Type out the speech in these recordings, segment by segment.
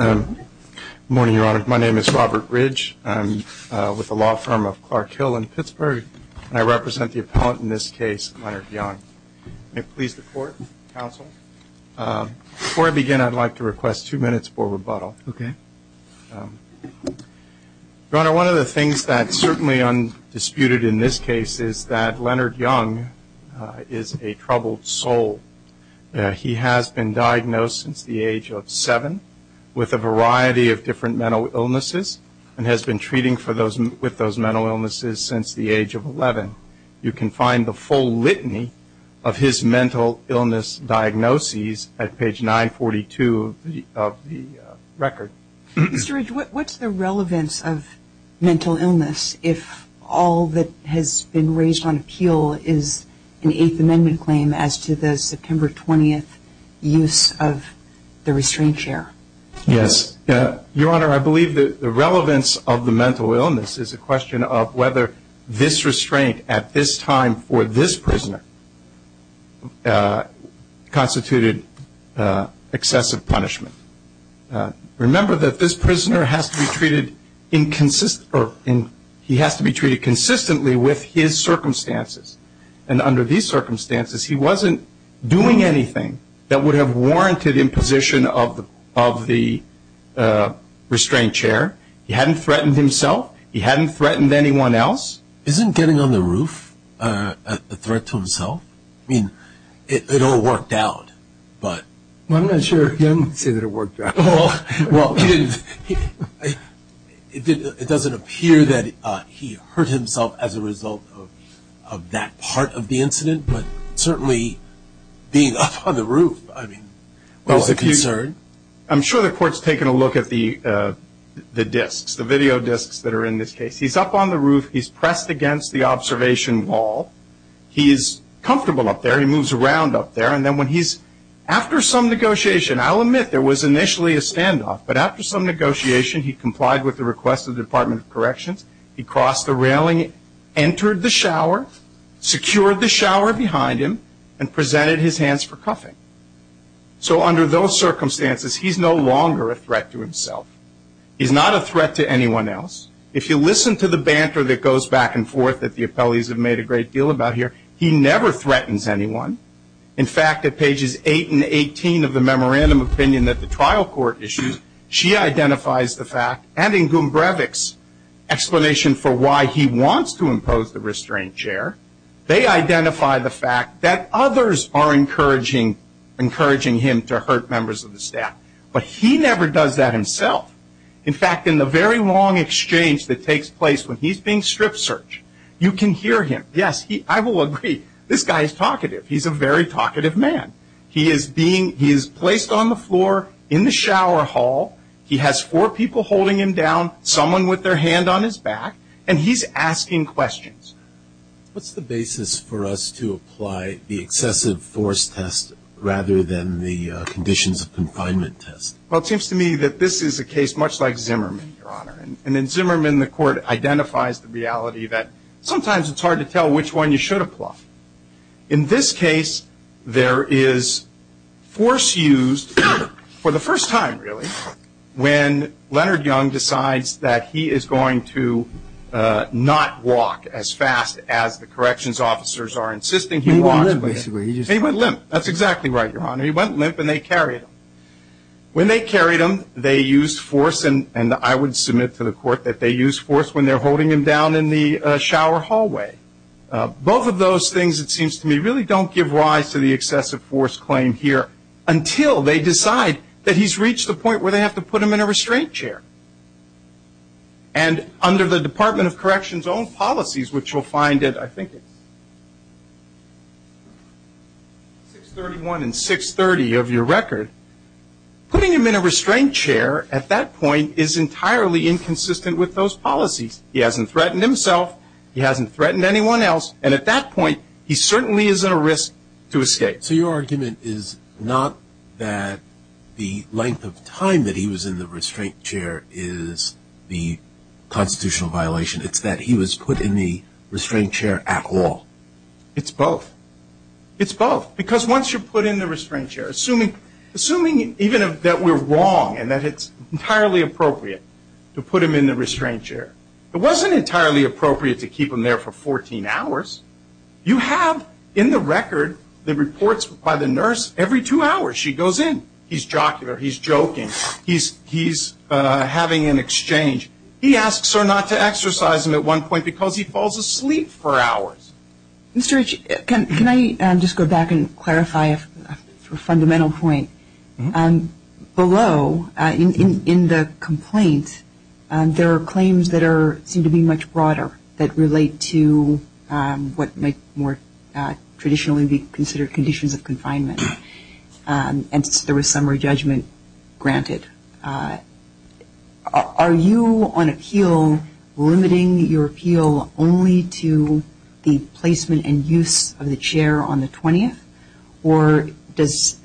Good morning, Your Honor. My name is Robert Ridge. I'm with the law firm of Clark Hill in Pittsburgh, and I represent the appellant in this case, Leonard Young. May I please report, counsel? Before I begin, I'd like to request two minutes for rebuttal. Okay. Your Honor, one of the things that's certainly undisputed in this case is that Leonard Young is a troubled soul. He has been diagnosed since the age of seven with a variety of different mental illnesses and has been treating with those mental illnesses since the age of 11. You can find the full litany of his mental illness diagnoses at page 942 of the record. Mr. Ridge, what's the relevance of mental illness if all that has been raised on appeal is an Eighth Amendment claim as to the September 20th use of the restraint chair? Yes. Your Honor, I believe that the relevance of the mental illness is a question of whether this restraint at this time for this prisoner constituted excessive punishment. Remember that this prisoner has to be treated consistently with his circumstances. And under these circumstances, he wasn't doing anything that would have warranted imposition of the restraint chair. He hadn't threatened himself. He hadn't threatened anyone else. Isn't getting on the roof a threat to himself? I mean, it all worked out. Well, I'm not sure if Young would say that it worked out. Well, it doesn't appear that he hurt himself as a result of that part of the incident, but certainly being up on the roof, I mean, was a concern. I'm sure the court's taken a look at the disks, the video disks that are in this case. He's up on the roof. He's pressed against the observation wall. He's comfortable up there. He moves around up there. And then when he's, after some negotiation, I'll admit there was initially a standoff, but after some negotiation, he complied with the request of the Department of Corrections. He crossed the railing, entered the shower, secured the shower behind him, and presented his hands for cuffing. So under those circumstances, he's no longer a threat to himself. He's not a threat to anyone else. If you listen to the banter that goes back and forth that the appellees have made a great deal about here, he never threatens anyone. In fact, at pages 8 and 18 of the memorandum of opinion that the trial court issues, she identifies the fact, and in Gumbrevich's explanation for why he wants to impose the restraint chair, they identify the fact that others are encouraging him to hurt members of the staff. But he never does that himself. In fact, in the very long exchange that takes place when he's being strip searched, you can hear him. Yes, I will agree, this guy is talkative. He's a very talkative man. He is placed on the floor in the shower hall. He has four people holding him down, someone with their hand on his back, and he's asking questions. What's the basis for us to apply the excessive force test rather than the conditions of confinement test? Well, it seems to me that this is a case much like Zimmerman, Your Honor. And in Zimmerman, the court identifies the reality that sometimes it's hard to tell which one you should apply. In this case, there is force used for the first time, really, when Leonard Young decides that he is going to not walk as fast as the corrections officers are insisting he walk. He went limp, basically. He went limp. That's exactly right, Your Honor. He went limp and they carried him. When they carried him, they used force, and I would submit to the court that they used force when they're holding him down in the shower hallway. Both of those things, it seems to me, really don't give rise to the excessive force claim here until they decide that he's reached the point where they have to put him in a restraint chair. And under the Department of Corrections' own policies, which you'll find at, I think, 631 and 630 of your record, putting him in a restraint chair at that point is entirely inconsistent with those policies. He hasn't threatened himself. He hasn't threatened anyone else. And at that point, he certainly is at a risk to escape. So your argument is not that the length of time that he was in the restraint chair is the constitutional violation. It's that he was put in the restraint chair at all. It's both. It's both, because once you put him in the restraint chair, assuming even that we're wrong and that it's entirely appropriate to put him in the restraint chair, it wasn't entirely appropriate to keep him there for 14 hours. You have in the record the reports by the nurse every two hours she goes in. He's jocular. He's joking. He's having an exchange. He asks her not to exercise him at one point because he falls asleep for hours. Can I just go back and clarify a fundamental point? Below, in the complaint, there are claims that seem to be much broader, that relate to what might more traditionally be considered conditions of confinement, and there was summary judgment granted. Are you on appeal limiting your appeal only to the placement and use of the chair on the 20th? Or does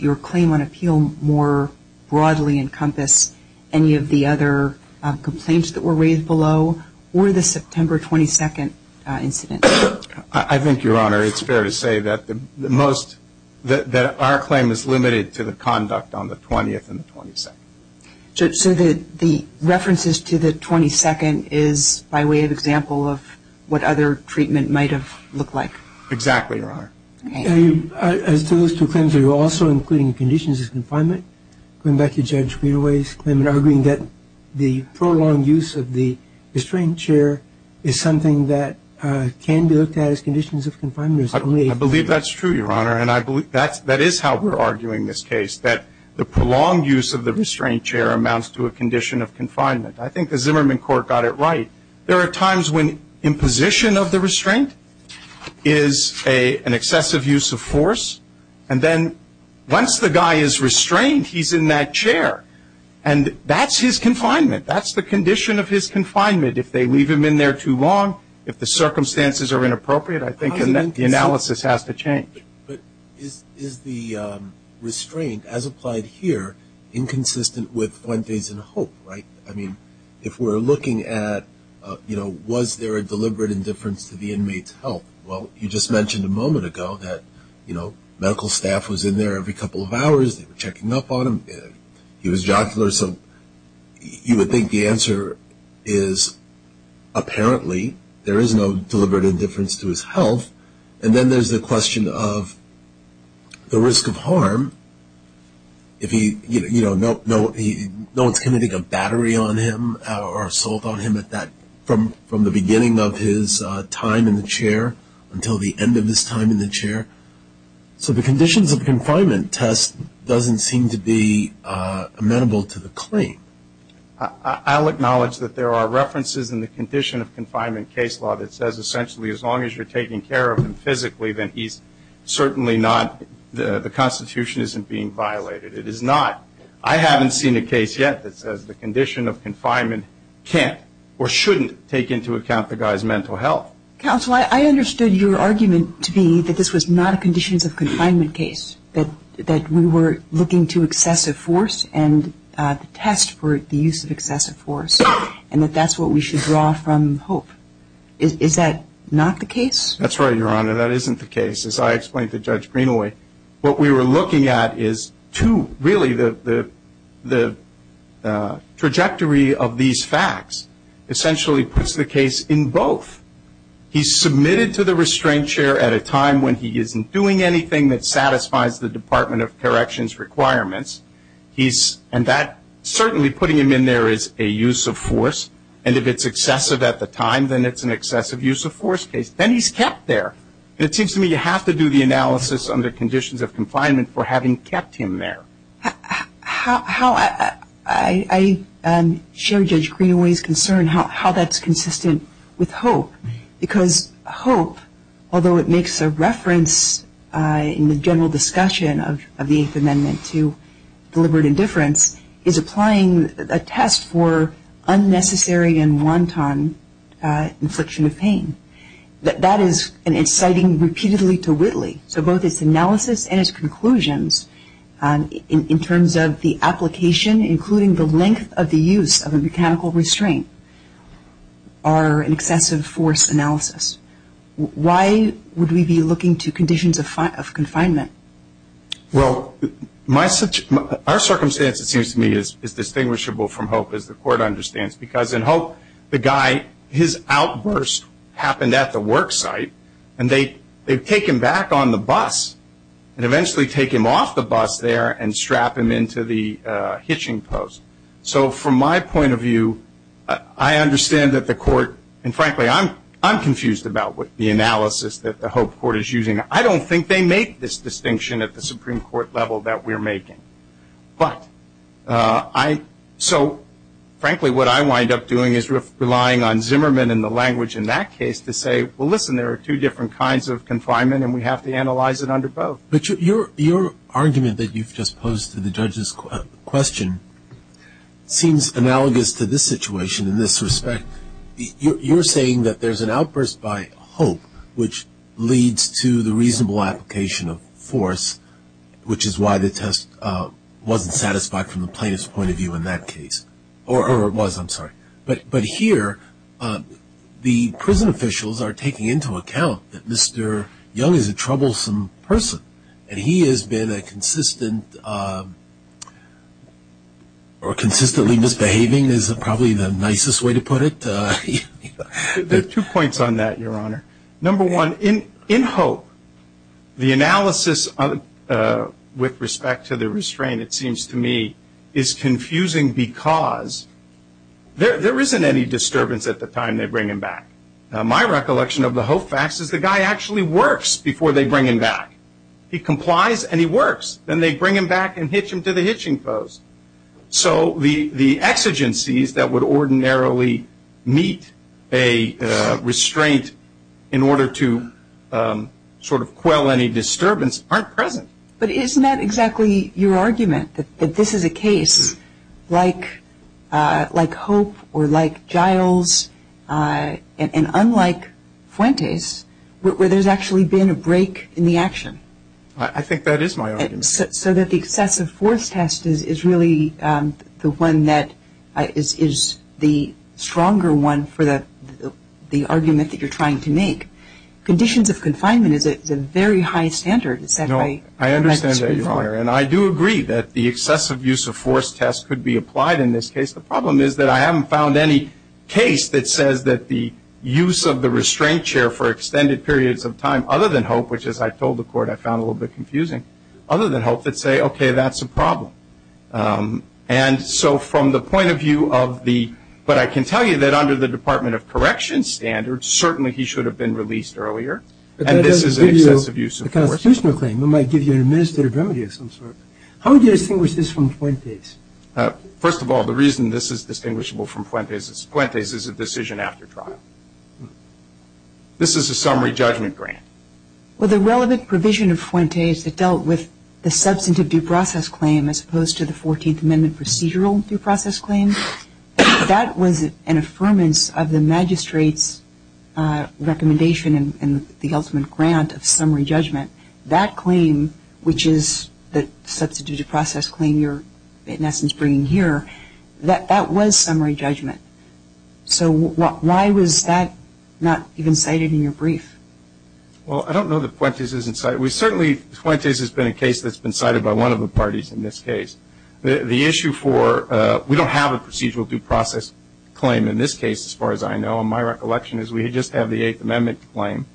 your claim on appeal more broadly encompass any of the other complaints that were raised below, or the September 22nd incident? I think, Your Honor, it's fair to say that our claim is limited to the conduct on the 20th and the 22nd. So the references to the 22nd is by way of example of what other treatment might have looked like? Exactly, Your Honor. Those two claims are also including conditions of confinement. Going back to Judge Greenaway's claim, arguing that the prolonged use of the restrained chair is something that can be looked at as conditions of confinement. I believe that's true, Your Honor, and that is how we're arguing this case, that the prolonged use of the restrained chair amounts to a condition of confinement. I think the Zimmerman court got it right. There are times when imposition of the restraint is an excessive use of force, and then once the guy is restrained, he's in that chair, and that's his confinement. That's the condition of his confinement. If they leave him in there too long, if the circumstances are inappropriate, I think the analysis has to change. But is the restraint, as applied here, inconsistent with Wednesdays in Hope, right? I mean, if we're looking at, you know, was there a deliberate indifference to the inmate's health? Well, you just mentioned a moment ago that, you know, medical staff was in there every couple of hours. They were checking up on him. He was jocular, so you would think the answer is apparently there is no deliberate indifference to his health. And then there's the question of the risk of harm. If he, you know, no impending battery on him or assault on him from the beginning of his time in the chair until the end of his time in the chair. So the conditions of confinement test doesn't seem to be amenable to the claim. I'll acknowledge that there are references in the condition of confinement case law that says, essentially, as long as you're taking care of him physically, then he's certainly not. The Constitution isn't being violated. It is not. I haven't seen a case yet that says the condition of confinement can't or shouldn't take into account the guy's mental health. Counsel, I understood your argument to be that this was not a conditions of confinement case, that we were looking to excessive force and the test for the use of excessive force, and that that's what we should draw from Hope. Is that not the case? That's right, Your Honor. That isn't the case. As I explained to Judge Greenaway, what we were looking at is two, really, the trajectory of these facts essentially puts the case in both. He's submitted to the restraint chair at a time when he isn't doing anything that satisfies the Department of Corrections requirements, and that certainly putting him in there is a use of force, and if it's excessive at the time, then it's an excessive use of force case. Then he's kept there. It seems to me you have to do the analysis under conditions of confinement for having kept him there. I share Judge Greenaway's concern how that's consistent with Hope, because Hope, although it makes a reference in the general discussion of the Eighth Amendment to deliberate indifference, is applying a test for unnecessary and wanton infliction of pain. That is exciting repeatedly to Whitley. So both its analysis and its conclusions in terms of the application, including the length of the use of a mechanical restraint, are an excessive force analysis. Why would we be looking to conditions of confinement? Well, our circumstance, it seems to me, is distinguishable from Hope, as the Court understands, because in Hope, the guy, his outburst happened at the work site, and they take him back on the bus and eventually take him off the bus there and strap him into the hitching post. So from my point of view, I understand that the Court, and frankly, I'm confused about the analysis that the Hope Court is using. I don't think they make this distinction at the Supreme Court level that we're making. But I, so frankly, what I wind up doing is relying on Zimmerman and the language in that case to say, well, listen, there are two different kinds of confinement, and we have to analyze it under both. Your argument that you've just posed to the judge's question seems analogous to this situation in this respect. You're saying that there's an outburst by Hope, which leads to the reasonable application of force, which is why the test wasn't satisfied from the plaintiff's point of view in that case. Or it was, I'm sorry. But here, the prison officials are taking into account that Mr. Young is a troublesome person, and he has been a consistent or consistently misbehaving is probably the nicest way to put it. There are two points on that, Your Honor. Number one, in Hope, the analysis with respect to the restraint, it seems to me, is confusing because there isn't any disturbance at the time they bring him back. My recollection of the Hope facts is the guy actually works before they bring him back. He complies and he works. Then they bring him back and hitch him to the hitching post. So the exigencies that would ordinarily meet a restraint in order to sort of quell any disturbance aren't present. But isn't that exactly your argument, that this is a case like Hope or like Giles and unlike Fuentes, where there's actually been a break in the action? I think that is my argument. So that the excessive force test is really the one that is the stronger one for the argument that you're trying to make. Conditions of confinement is a very high standard. No, I understand that, Your Honor. And I do agree that the excessive use of force test could be applied in this case. The problem is that I haven't found any case that says that the use of the restraint chair for extended periods of time, other than Hope, which as I told the court I found a little bit confusing, other than Hope that say, okay, that's a problem. And so from the point of view of the – but I can tell you that under the Department of Correction standards, certainly he should have been released earlier and this is an excessive use of force. But that doesn't give you a constitutional claim. It might give you an administrative remedy of some sort. How would you distinguish this from Fuentes? First of all, the reason this is distinguishable from Fuentes is Fuentes is a decision after trial. This is a summary judgment grant. Well, the relevant provision of Fuentes that dealt with the substantive due process claim as opposed to the 14th Amendment procedural due process claim, that was an affirmance of the magistrate's recommendation and the ultimate grant of summary judgment. That claim, which is the substantive due process claim you're in essence bringing here, that was summary judgment. So why was that not even cited in your brief? Well, I don't know that Fuentes isn't cited. We certainly – Fuentes has been a case that's been cited by one of the parties in this case. The issue for – we don't have a procedural due process claim in this case as far as I know. My recollection is we just have the Eighth Amendment claim.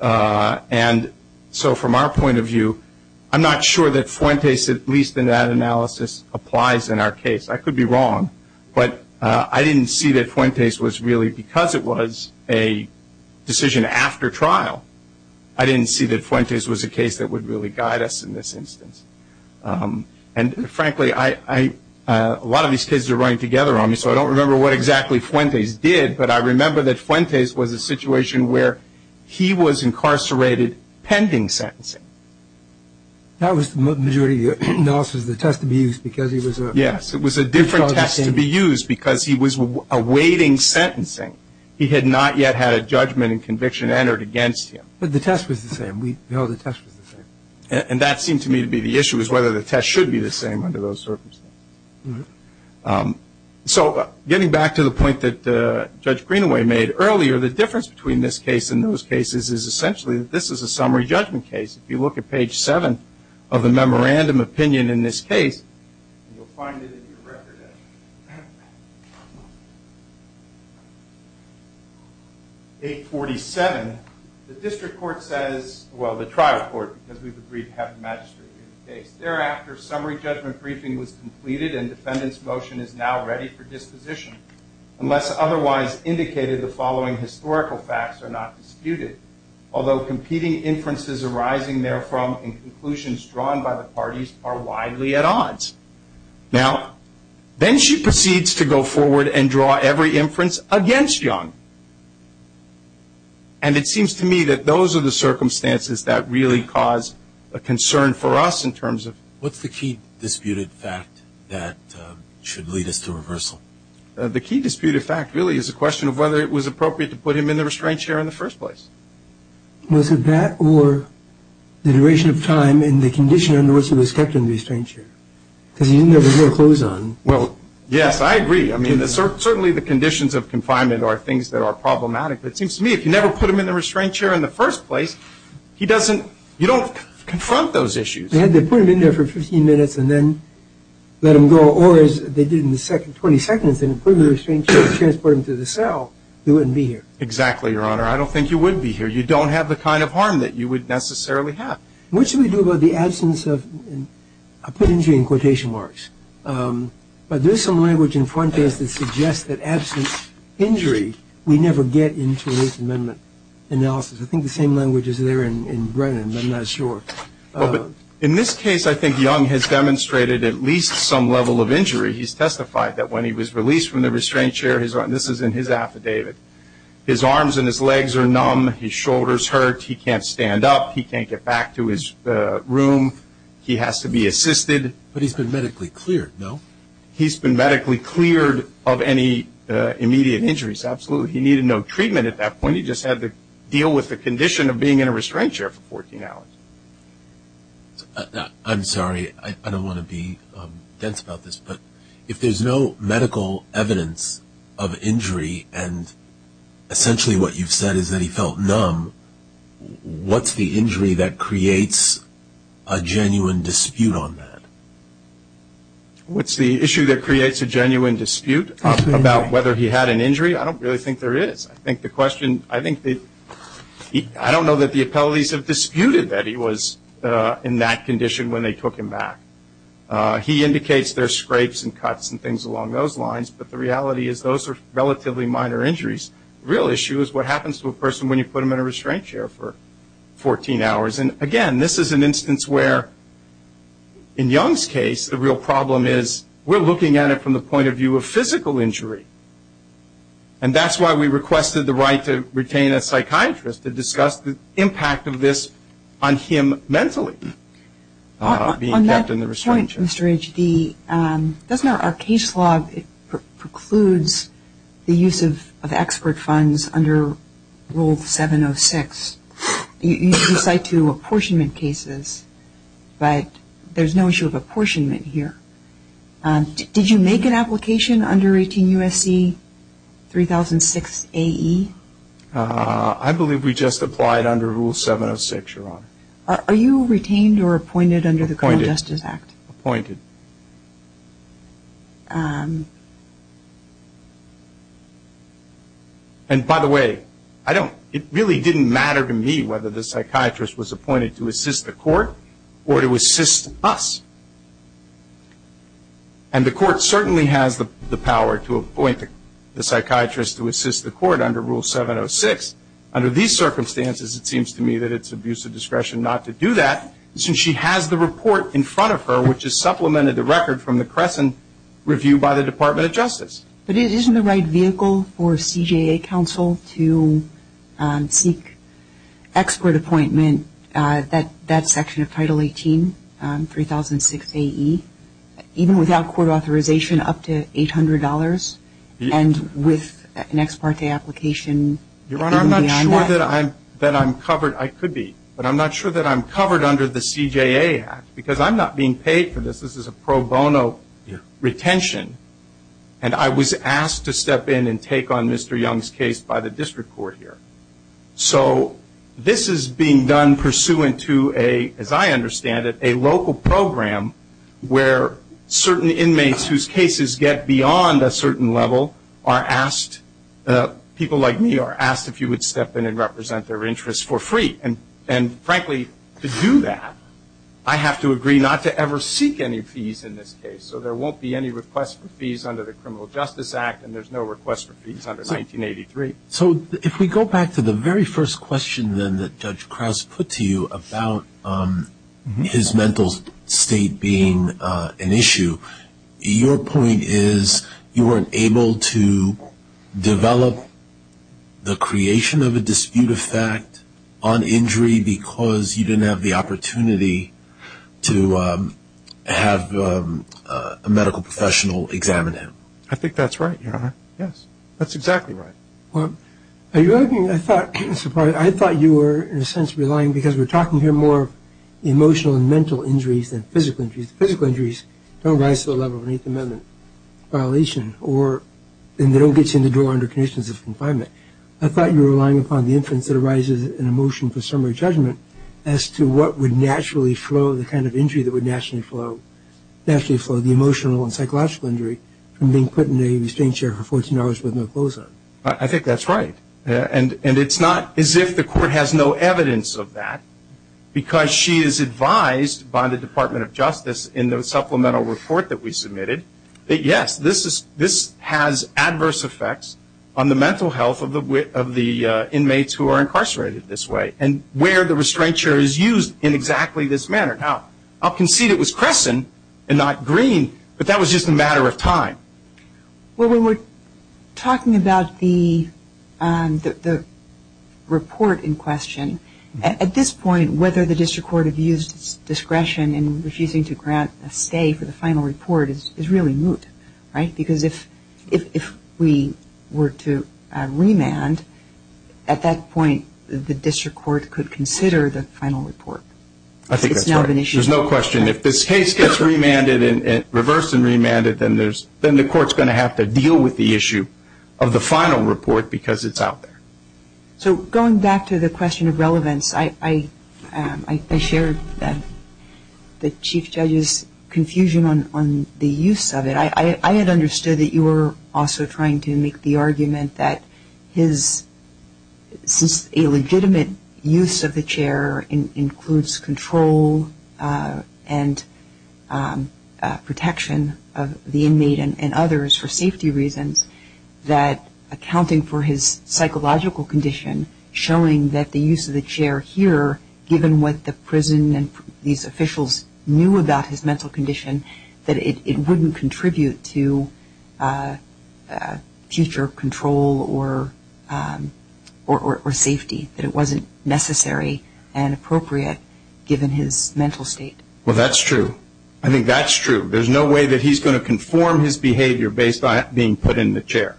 And so from our point of view, I'm not sure that Fuentes, at least in that analysis, applies in our case. I could be wrong, but I didn't see that Fuentes was really – because it was a decision after trial, I didn't see that Fuentes was a case that would really guide us in this instance. And frankly, I – a lot of these kids are running together on me, so I don't remember what exactly Fuentes did, but I remember that Fuentes was a situation where he was incarcerated pending sentencing. That was the majority of the notices that had to be used because he was a – Yes, it was a different test to be used because he was awaiting sentencing. He had not yet had a judgment and conviction entered against him. But the test was the same. We know the test was the same. And that seemed to me to be the issue, was whether the test should be the same under those circumstances. So getting back to the point that Judge Greenaway made earlier, the difference between this case and those cases is essentially that this is a summary judgment case. If you look at page 7 of the memorandum opinion in this case, you'll find it in the record. Page 47, the district court says – well, the trial court, because we've agreed to have the magistrate give the case. Thereafter, summary judgment briefing was completed and defendant's motion is now ready for disposition. Unless otherwise indicated, the following historical facts are not disputed. Although competing inferences arising therefrom and conclusions drawn by the parties are widely at odds. Now, then she proceeds to go forward and draw every inference against John. And it seems to me that those are the circumstances that really cause a concern for us in terms of – What's the key disputed fact that should lead us to reversal? The key disputed fact really is a question of whether it was appropriate to put him in the restraint chair in the first place. Was it that or the duration of time in the condition in which he was kept in the restraint chair? Because he didn't have his real clothes on. Well, yes, I agree. I mean, certainly the conditions of confinement are things that are problematic. But it seems to me if you never put him in the restraint chair in the first place, he doesn't – you don't confront those issues. If you had to put him in there for 15 minutes and then let him go, or as they did in the 22nd, put him in the restraint chair and transport him to the cell, he wouldn't be here. Exactly, Your Honor. I don't think he would be here. You don't have the kind of harm that you would necessarily have. What should we do about the absence of – I put injury in quotation marks. But there's some language in front of us that suggests that absent injury, we never get into this amendment analysis. I think the same language is there in Brennan. I'm not sure. In this case, I think Young has demonstrated at least some level of injury. He's testified that when he was released from the restraint chair – this is in his affidavit – his arms and his legs are numb, his shoulders hurt, he can't stand up, he can't get back to his room, he has to be assisted. But he's been medically cleared, no? He's been medically cleared of any immediate injuries, absolutely. He needed no treatment at that point. He just had to deal with the condition of being in a restraint chair for 14 hours. I'm sorry. I don't want to be dense about this. But if there's no medical evidence of injury and essentially what you've said is that he felt numb, what's the injury that creates a genuine dispute on that? What's the issue that creates a genuine dispute about whether he had an injury? I don't really think there is. I think the question – I don't know that the attendees have disputed that he was in that condition when they took him back. He indicates there's scrapes and cuts and things along those lines, but the reality is those are relatively minor injuries. The real issue is what happens to a person when you put them in a restraint chair for 14 hours. Again, this is an instance where, in Young's case, the real problem is we're looking at it from the point of view of physical injury. And that's why we requested the right to retain a psychiatrist to discuss the impact of this on him mentally. On that point, Mr. Ridge, our case log precludes the use of expert funds under Rule 706. You cite two apportionment cases, but there's no issue of apportionment here. Did you make an application under 18 U.S.C. 3006 A.E.? I believe we just applied under Rule 706, Your Honor. Are you retained or appointed under the Criminal Justice Act? Appointed. And by the way, it really didn't matter to me whether the psychiatrist was appointed to assist the court or to assist us. And the court certainly has the power to appoint the psychiatrist to assist the court under Rule 706. Under these circumstances, it seems to me that it's abuse of discretion not to do that, since she has the report in front of her, which is supplemented, the record from the Crescent Review by the Department of Justice. But isn't the right vehicle for a CJA counsel to seek expert appointment at that section of Title 18, 3006 A.E.? Even without court authorization, up to $800? And with an ex parte application? Your Honor, I'm not sure that I'm covered. I could be. But I'm not sure that I'm covered under the CJA act, because I'm not being paid for this. This is a pro bono retention. And I was asked to step in and take on Mr. Young's case by the district court here. So this is being done pursuant to a, as I understand it, a local program where certain inmates whose cases get beyond a certain level are asked, people like me are asked if you would step in and represent their interests for free. And, frankly, to do that, I have to agree not to ever seek any fees in this case. So there won't be any request for fees under the Criminal Justice Act, and there's no request for fees under 1983. So if we go back to the very first question then that Judge Krause put to you about his mental state being an issue, your point is you weren't able to develop the creation of a dispute effect on injury because you didn't have the opportunity to have a medical professional examine him. Yes, that's exactly right. I thought you were, in a sense, relying, because we're talking here more emotional and mental injuries than physical injuries. Physical injuries don't rise to the level of an Eighth Amendment violation, or they don't get you into jail under conditions of confinement. I thought you were relying upon the influence that arises in a motion for summary judgment as to what would naturally flow, the kind of injury that would naturally flow, the emotional and psychological injury from being put in a restraint chair for 14 hours with no clothes on. I think that's right, and it's not as if the court has no evidence of that, because she is advised by the Department of Justice in the supplemental report that we submitted that, yes, this has adverse effects on the mental health of the inmates who are incarcerated this way and where the restraint chair is used in exactly this manner. Now, I'll concede it was Crescent and not Green, but that was just a matter of time. Well, when we're talking about the report in question, at this point whether the district court has used discretion in refusing to grant a stay for the final report is really moot, right? Because if we were to remand, at that point the district court could consider the final report. I think that's right. It's not an issue. There's no question. If this case gets remanded and reversed and remanded, then the court's going to have to deal with the issue of the final report because it's out there. So going back to the question of relevance, I shared the Chief Judge's confusion on the use of it. I had understood that you were also trying to make the argument that a legitimate use of the chair includes control and protection of the inmate and others for safety reasons, that accounting for his psychological condition, showing that the use of the chair here, given what the prison and these officials knew about his mental condition, that it wouldn't contribute to future control or safety, that it wasn't necessary and appropriate given his mental state. Well, that's true. I think that's true. There's no way that he's going to conform his behavior based on it being put in the chair.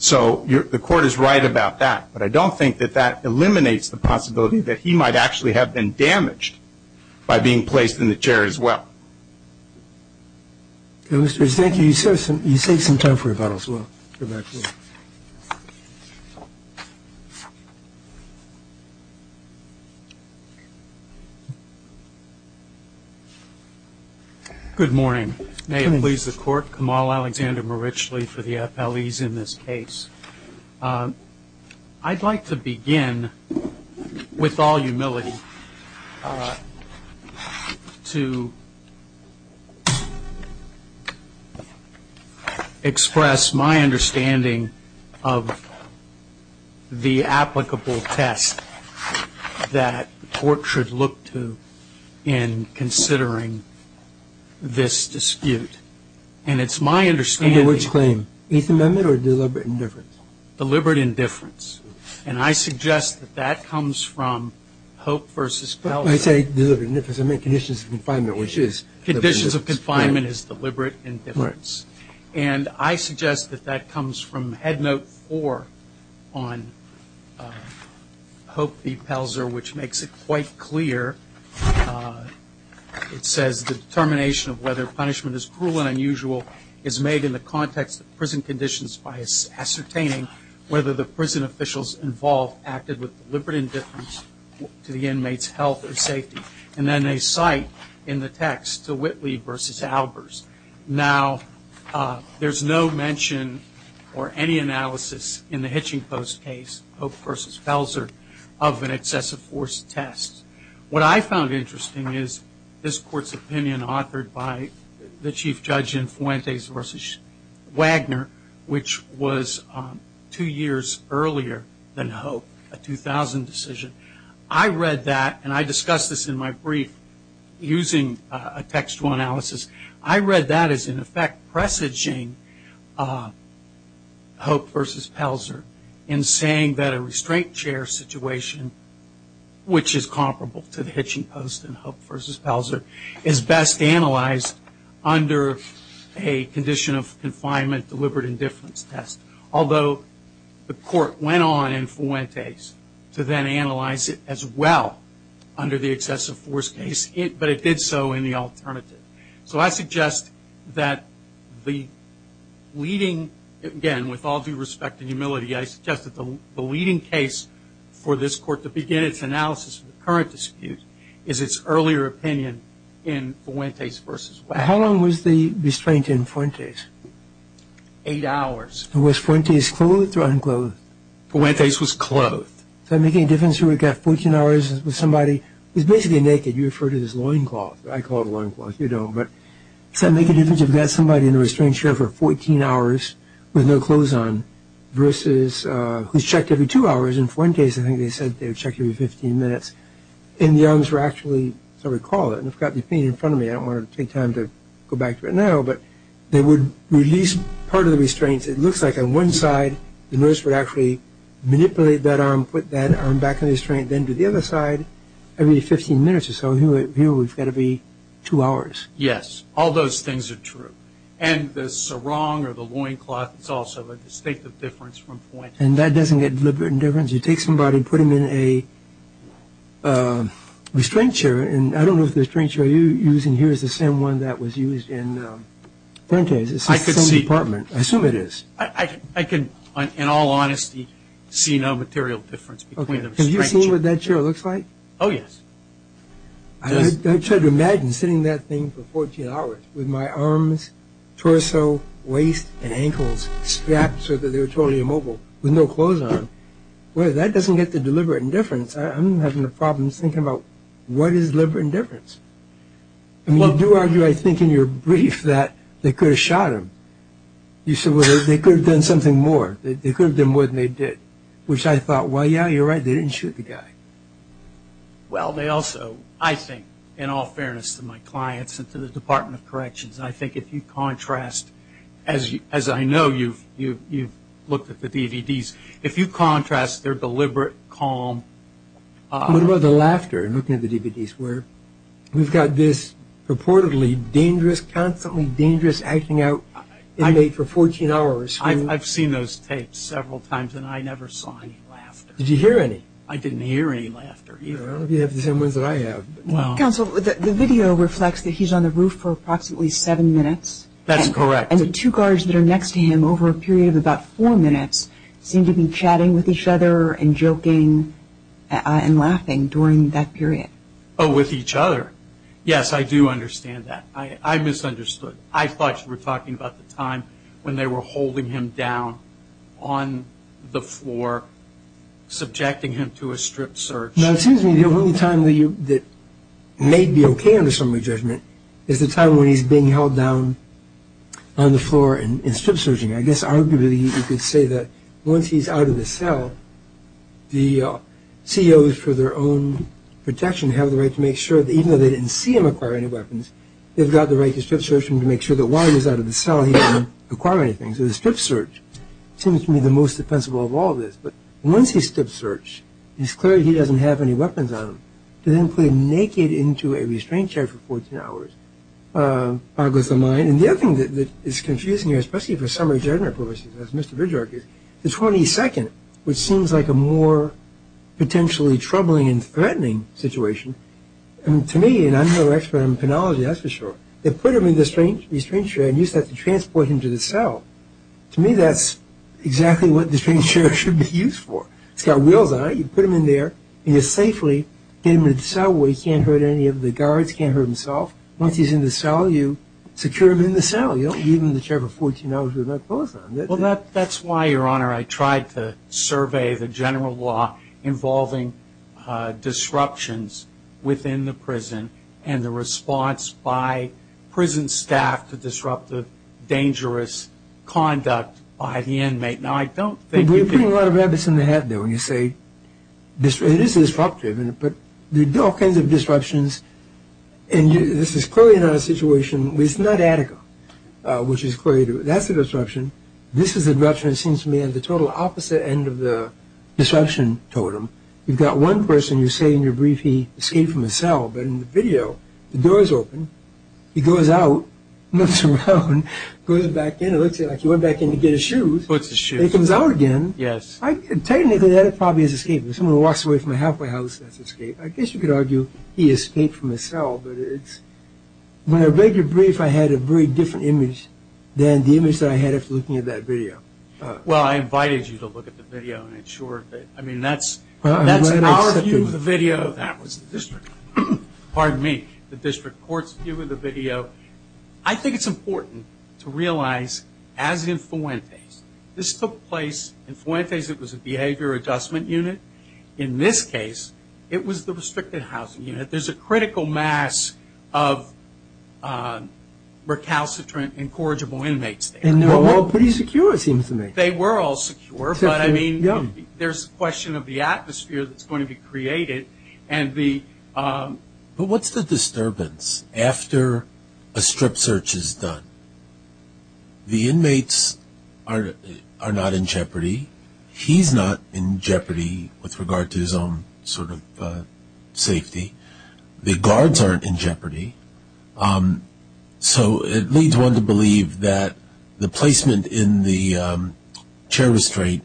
So the court is right about that, but I don't think that that eliminates the possibility that he might actually have been damaged by being placed in the chair as well. Thank you. You saved some time for rebuttal. Good morning. May it please the court. Kamal Alexander Marichli for the FLEs in this case. I'd like to begin with all humility to express my understanding of the applicable test that the court should look to in considering this dispute. And it's my understanding. Under which claim? Eighth Amendment or deliberate indifference? Deliberate indifference. And I suggest that that comes from Hope v. Pelzer. I say deliberate indifference. I mean conditions of confinement, which is deliberate indifference. Conditions of confinement is deliberate indifference. And I suggest that that comes from Head Note 4 on Hope v. Pelzer, which makes it quite clear. It says the determination of whether punishment is cruel and unusual is made in the context of prison conditions by ascertaining whether the prison officials involved acted with deliberate indifference to the inmate's health and safety. And then they cite in the text to Whitley v. Albers. Now, there's no mention or any analysis in the Hitching Post case, Hope v. Pelzer, of an excessive force test. What I found interesting is this court's opinion authored by the chief judge in Fuentes v. Wagner, which was two years earlier than Hope, a 2000 decision. I read that, and I discussed this in my brief using a textual analysis. I read that as, in effect, presaging Hope v. Pelzer in saying that a restraint chair situation, which is comparable to the Hitching Post and Hope v. Pelzer, is best analyzed under a condition of confinement deliberate indifference test. Although the court went on in Fuentes to then analyze it as well under the excessive force case, but it did so in the alternative. So I suggest that the leading, again, with all due respect and humility, I suggest that the leading case for this court to begin its analysis of the current dispute is its earlier opinion in Fuentes v. Wagner. How long was the restraint in Fuentes? Eight hours. Was Fuentes clothed or unclothed? Fuentes was clothed. So making a difference here, we've got 14 hours with somebody who's basically naked. You refer to this as loincloth. I call it loincloth. You don't. But to make a difference, you've got somebody in a restraint chair for 14 hours with no clothes on versus who's checked every two hours. In Fuentes, I think they said they were checked every 15 minutes. And the arms were actually, as I recall it, and I've got the thing in front of me. I don't want to take time to go back to it now, but they would release part of the restraint. It looks like on one side the nurse would actually manipulate that arm, put that arm back in the restraint, and then to the other side every 15 minutes or so. Here we've got to be two hours. Yes. All those things are true. And the sarong or the loincloth is also a distinctive difference from Fuentes. And that doesn't make a difference. You take somebody and put them in a restraint chair. And I don't know if the restraint chair you're using here is the same one that was used in Fuentes. It's the same department. I assume it is. I can, in all honesty, see no material difference. Okay. Have you seen what that chair looks like? Oh, yes. I tried to imagine sitting in that thing for 14 hours with my arms, torso, waist, and ankles strapped so that they were totally immobile with no clothes on. Well, that doesn't get to deliberate indifference. I'm having a problem thinking about what is deliberate indifference. I mean, you do argue, I think, in your brief that they could have shot him. You said, well, they could have done something more. They could have done more than they did, which I thought, well, yeah, you're right, they didn't shoot the guy. Well, they also, I think, in all fairness to my clients and to the Department of Corrections, I think if you contrast, as I know you've looked at the DVDs, if you contrast their deliberate, calm... What about the laughter in looking at the DVDs? We've got this reportedly dangerous, constantly dangerous, acting out inmate for 14 hours. I've seen those tapes several times, and I never saw any laughter. Did you hear any? I didn't hear any laughter either. I don't know if you have the same ones that I have. Counsel, the video reflects that he's on the roof for approximately seven minutes. That's correct. And the two guards that are next to him over a period of about four minutes seem to be chatting with each other and joking and laughing during that period. Oh, with each other. Yes, I do understand that. I misunderstood. I thought you were talking about the time when they were holding him down on the floor, subjecting him to a strip search. No, it seems to me the only time that may be okay under summary judgment is the time when he's being held down on the floor and strip searching. I guess arguably you could say that once he's out of the cell, the COs for their own protection have the right to make sure that even though they didn't see him acquire any weapons, they've got the right to strip search him to make sure that while he's out of the cell, he didn't acquire anything. So the strip search seems to me the most defensible of all of this. But once he's strip searched, it's clear he doesn't have any weapons on him. To then put him naked into a restraint chair for 14 hours, arguably is a lie. And the other thing that is confusing here, especially for summary judgment purposes, as Mr. Bridger argues, the 22nd, which seems like a more potentially troubling and threatening situation, to me, and I'm no expert on chronology, that's for sure, they put him in the restraint chair and used that to transport him to the cell. To me, that's exactly what the restraint chair should be used for. It's got wheels on it. You put him in there and you're safely in the cell where he can't hurt any of the guards, can't hurt himself. Once he's in the cell, you secure him in the cell. You don't leave him in the chair for 14 hours with no clothes on. Well, that's why, Your Honor, I tried to survey the general law involving disruptions within the prison and the response by prison staff to disruptive, dangerous conduct by the inmate. Now, I don't think that the- You're putting a lot of rabbits in the head there when you say it is disruptive, but there are all kinds of disruptions. And this is clearly not a situation where it's not adequate, which is clearly, that's a disruption. This is a disruption that seems to me as the total opposite end of the disruption totem. You've got one person you say in your brief he escaped from a cell, but in the video, the door is open, he goes out, looks around, goes back in, it looks like he went back in to get his shoes. He comes out again. Yes. Technically, that probably is escape. If someone walks away from a halfway house, that's escape. I guess you could argue he escaped from a cell, but it's- When I read your brief, I had a very different image than the image that I had after looking at that video. Well, I invited you to look at the video and ensure that- I mean, that's our view of the video. That was the district. Pardon me. The district court's view of the video. I think it's important to realize, as in Fuentes, this took place- In Fuentes, it was a behavior adjustment unit. In this case, it was the restricted housing unit. There's a critical mass of recalcitrant incorrigible inmates there. They were all pretty secure, it seems to me. They were all secure, but, I mean, there's a question of the atmosphere that's going to be created and the- What's the disturbance after a strip search is done? The inmates are not in jeopardy. He's not in jeopardy with regard to his own sort of safety. The guards aren't in jeopardy. So it leads one to believe that the placement in the chair restraint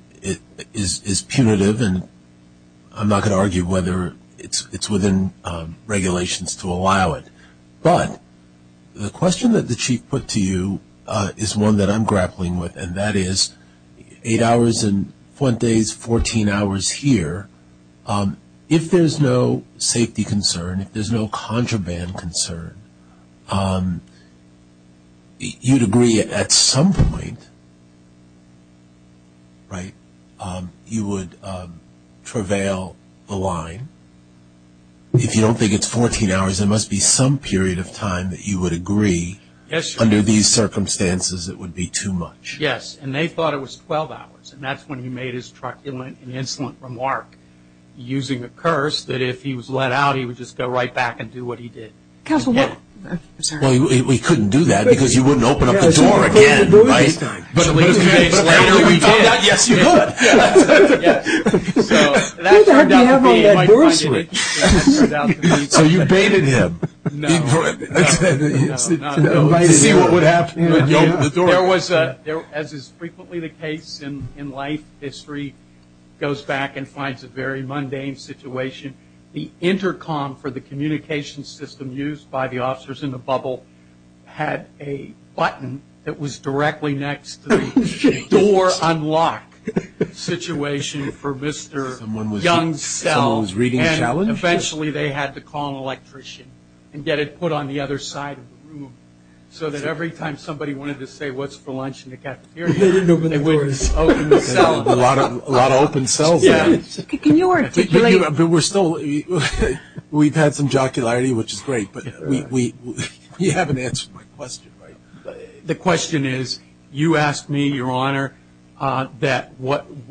is punitive, and I'm not going to argue whether it's within regulations to allow it. But the question that the chief put to you is one that I'm grappling with, and that is eight hours in Fuentes, 14 hours here. If there's no safety concern, if there's no contraband concern, you'd agree at some point, right, you would prevail the line. If you don't think it's 14 hours, there must be some period of time that you would agree under these circumstances it would be too much. Yes, and they thought it was 12 hours, and that's when he made an insolent remark using the curse that if he was let out, he would just go right back and do what he did. Well, he couldn't do that because you wouldn't open up the door at night time. Yes, you would. Who the heck would ever open that door at night? Oh, you baited him. As is frequently the case in life, history goes back and finds a very mundane situation. The intercom for the communication system used by the officers in the bubble had a button that was directly next to the door unlock situation for Mr. Young's cell, and eventually they had to call an electrician and get it put on the other side of the room so that every time somebody wanted to say what's for lunch in the cafeteria, it would open the cell. A lot of open cells. Yes, but we're still we've had some jocularity, which is great, but you haven't answered my question. The question is you asked me, Your Honor, that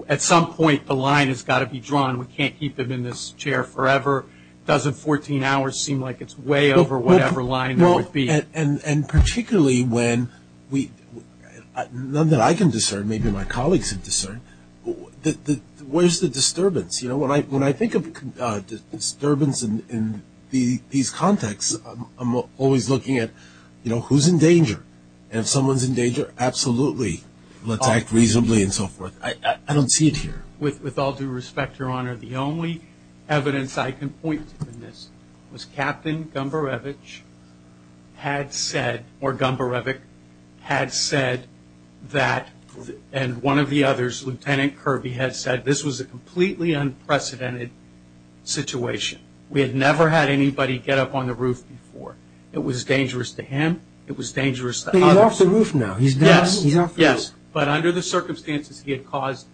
at some point the line has got to be drawn. We can't keep them in this chair forever. Doesn't 14 hours seem like it's way over whatever line it would be? And particularly when we, none that I can discern, maybe my colleagues can discern, where's the disturbance? When I think of disturbance in these contexts, I'm always looking at who's in danger, and if someone's in danger, absolutely, they'll attack reasonably and so forth. I don't see it here. With all due respect, Your Honor, the only evidence I can point to in this was Captain Gumborevich had said, or Gumborevich had said that, and one of the others, Lieutenant Kirby, had said this was a completely unprecedented situation. We had never had anybody get up on the roof before. It was dangerous to him. It was dangerous to others. He's off the roof now. Yes, yes, but under the circumstances, he had caused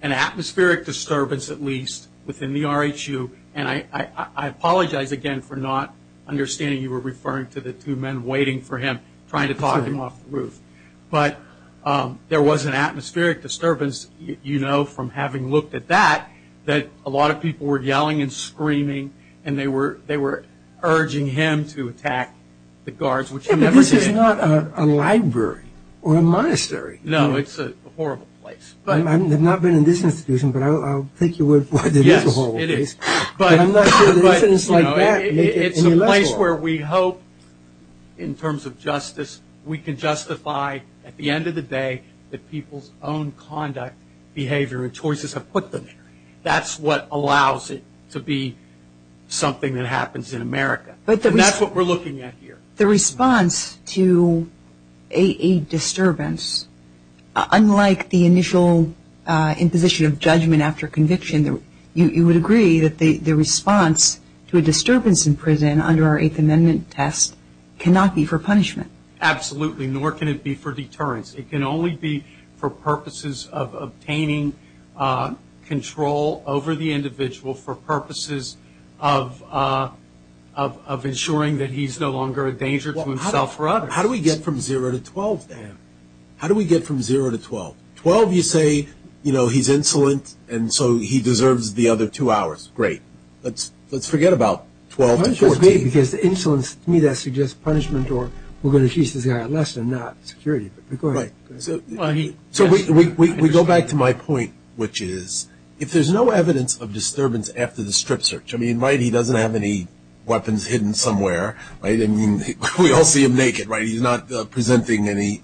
an atmospheric disturbance, at least within the RHU, and I apologize again for not understanding you were referring to the two men waiting for him, trying to talk him off the roof. But there was an atmospheric disturbance, you know, from having looked at that, that a lot of people were yelling and screaming, and they were urging him to attack the guards, which I remember seeing. But this is not a library or a monastery. No, it's a horrible place. I have not been in this institution, but I'll take your word for it. Yes, it is. But I'm not sure there's evidence like that. It's a place where we hope, in terms of justice, we can justify at the end of the day that people's own conduct, behavior, and choices have put them there. That's what allows it to be something that happens in America. And that's what we're looking at here. The response to a disturbance, unlike the initial imposition of judgment after conviction, you would agree that the response to a disturbance in prison under our Eighth Amendment test cannot be for punishment. Absolutely, nor can it be for deterrence. It can only be for purposes of obtaining control over the individual for purposes of ensuring that he's no longer a danger to himself or others. How do we get from zero to 12, Dan? How do we get from zero to 12? Twelve, you say, you know, he's insolent, and so he deserves the other two hours. Great. Let's forget about 12. Because insolence, to me, that suggests punishment or we're going to teach this guy a lesson, not security. Go ahead. So we go back to my point, which is if there's no evidence of disturbance after the strip search, I mean, right, he doesn't have any weapons hidden somewhere, right? I mean, we all see him naked, right? He's not presenting any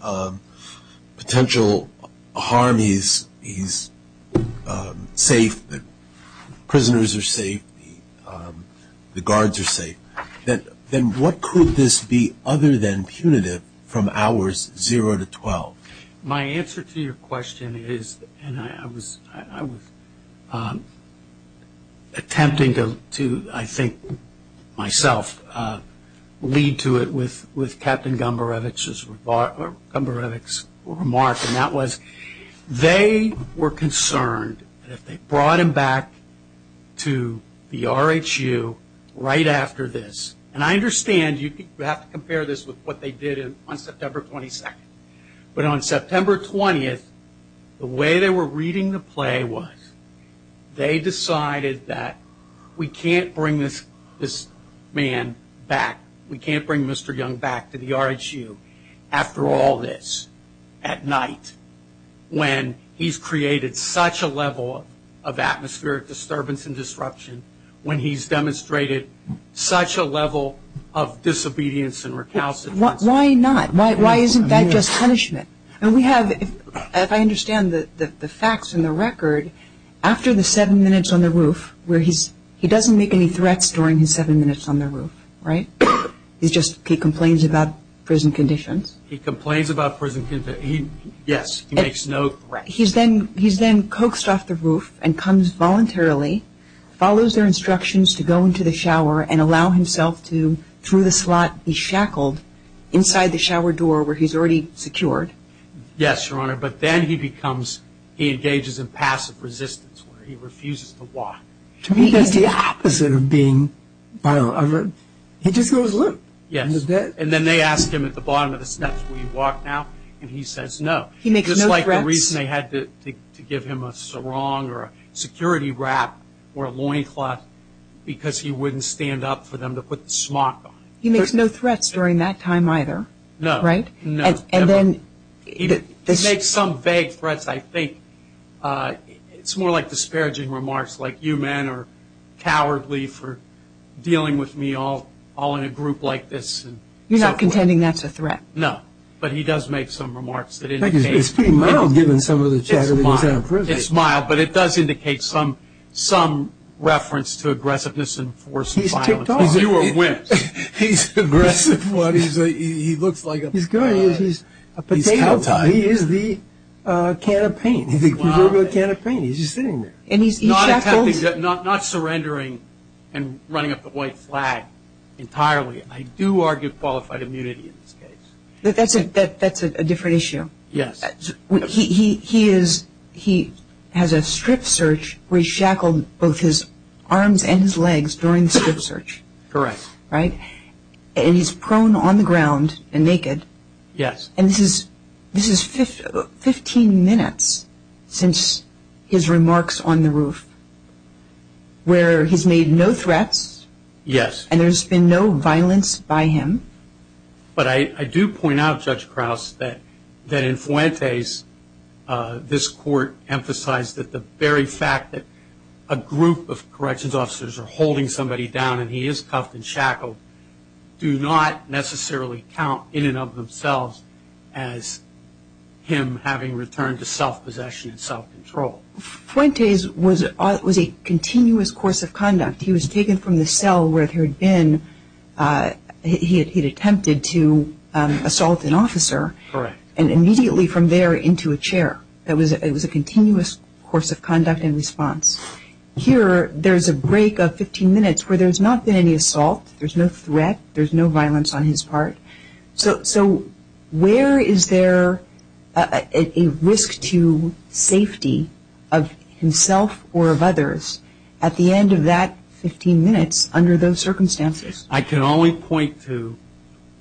potential harm. He's safe. The prisoners are safe. The guards are safe. Then what could this be other than punitive from hours zero to 12? My answer to your question is, and I was attempting to, I think, myself, lead to it with Captain Gumbarevich's remark, and that was they were concerned that if they brought him back to the RHU right after this, and I understand you have to compare this with what they did on September 22nd, but on September 20th, the way they were reading the play was they decided that we can't bring this man back, we can't bring Mr. Young back to the RHU after all this, at night, when he's created such a level of atmospheric disturbance and disruption, when he's demonstrated such a level of disobedience and recalcitrance. Why not? Why isn't that just punishment? And we have, as I understand the facts and the record, after the seven minutes on the roof, where he doesn't make any threats during his seven minutes on the roof, right? He just, he complains about prison conditions. He complains about prison conditions. Yes, he makes no threats. He's then coaxed off the roof and comes voluntarily, follows their instructions to go into the shower and allow himself to, through the slot he's shackled, inside the shower door where he's already secured. Yes, Your Honor, but then he becomes, he engages in passive resistance where he refuses to walk. To me that's the opposite of being violent. He just goes limp. Yes, and then they ask him at the bottom of the steps, will you walk now? And he says no. He makes no threats. Just like the reason they had to give him a sarong or a security wrap or a loincloth, because he wouldn't stand up for them to put the smock on. He makes no threats during that time either. No. Right? No. He makes some vague threats, I think. It's more like disparaging remarks like, you men are cowardly for dealing with me all in a group like this. You're not contending that's a threat? No, but he does make some remarks that indicate. It's pretty mild given some of the chatter. It's mild, but it does indicate some reference to aggressiveness and force and violence. He's kicked off. He's aggressive. He looks like a... He's good. He is the can of paint. He's a can of paint. He's just sitting there. Not surrendering and running up a white flag entirely. I do argue qualified immunity in this case. That's a different issue. Yes. He has a strip search where he's shackled both his arms and his legs during the strip search. Correct. Right? And he's prone on the ground and naked. Yes. And this is 15 minutes since his remarks on the roof where he's made no threats. Yes. And there's been no violence by him. But I do point out, Judge Krause, that in Fuentes, this court emphasized that the very fact that a group of corrections officers are holding somebody down and he is cuffed and shackled do not necessarily count in and of themselves as him having returned to self-possession and self-control. Fuentes was a continuous course of conduct. He was taken from the cell where he had attempted to assault an officer. Correct. And immediately from there into a chair. It was a continuous course of conduct and response. Here there's a break of 15 minutes where there's not been any assault. There's no threat. There's no violence on his part. So where is there a risk to safety of himself or of others at the end of that 15 minutes under those circumstances? I can only point to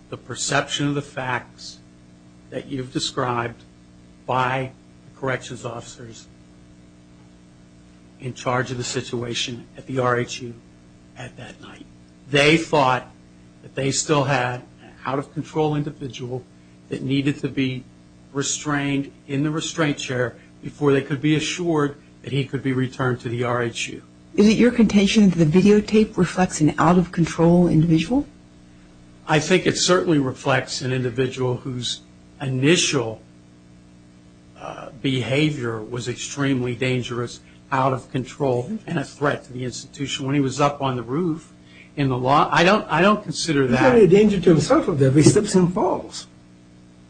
the perception of the facts that you've described by corrections officers in charge of the situation at the RHU at that night. They thought that they still had an out-of-control individual that needed to be restrained in the restraint chair before they could be assured that he could be returned to the RHU. Is it your contention that the videotape reflects an out-of-control individual? I think it certainly reflects an individual whose initial behavior was extremely dangerous, out-of-control, and a threat to the institution. When he was up on the roof in the lobby, I don't consider that... He's not really a danger to himself up there because he slips and falls.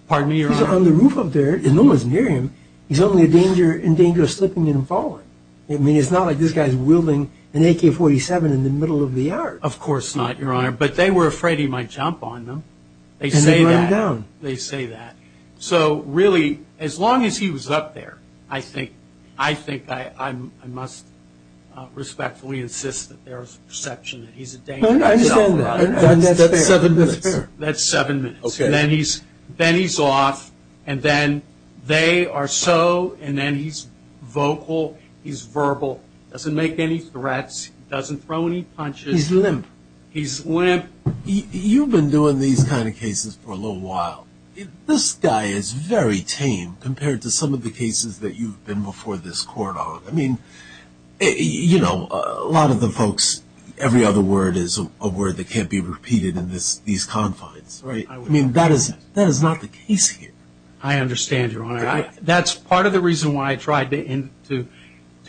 Pardon me? He's on the roof up there and no one's near him. He's only a danger in danger of slipping and falling. I mean, it's not like this guy's wielding an AK-47 in the middle of the yard. Of course not, Your Honor, but they were afraid he might jump on them. And then run down. They say that. So really, as long as he was up there, I think I must respectfully insist that there's a perception that he's a danger to himself. I understand that. That's seven minutes. That's seven minutes. Okay. Then he's off, and then they are so, and then he's vocal, he's verbal, doesn't make any threats, doesn't throw any punches. He's limp. He's limp. You've been doing these kind of cases for a little while. This guy is very tame compared to some of the cases that you've been before this court on. I mean, you know, a lot of the folks, every other word is a word that can't be repeated in these confines. I mean, that is not the case here. I understand, Your Honor. That's part of the reason why I tried to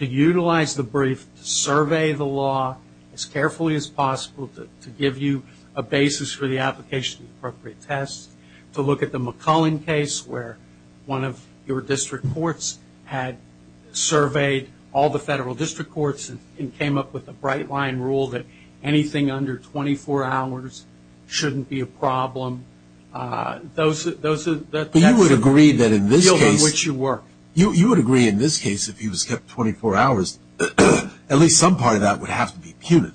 utilize the brief to survey the law as carefully as possible to give you a basis for the application of appropriate tests, to look at the McCullen case where one of your district courts had surveyed all the federal district courts and came up with a bright-line rule that anything under 24 hours shouldn't be a problem. Those are the things. You would agree that in this case, if he was kept 24 hours, at least some part of that would have to be punitive.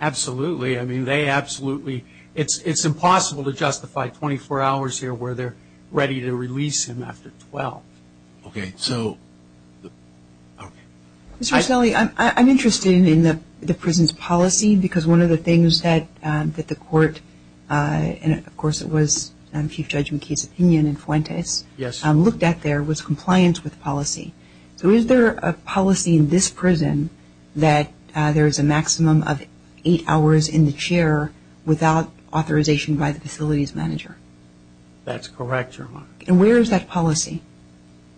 Absolutely. I mean, they absolutely, it's impossible to justify 24 hours here where they're ready to release him after 12. Okay. Okay. Mr. Snelly, I'm interested in the prison's policy because one of the things that the court, and of course it was Chief Judge McKee's opinion in Fuentes, looked at there was compliance with policy. So is there a policy in this prison that there's a maximum of eight hours in the chair without authorization by the facilities manager? That's correct, Your Honor. And where is that policy?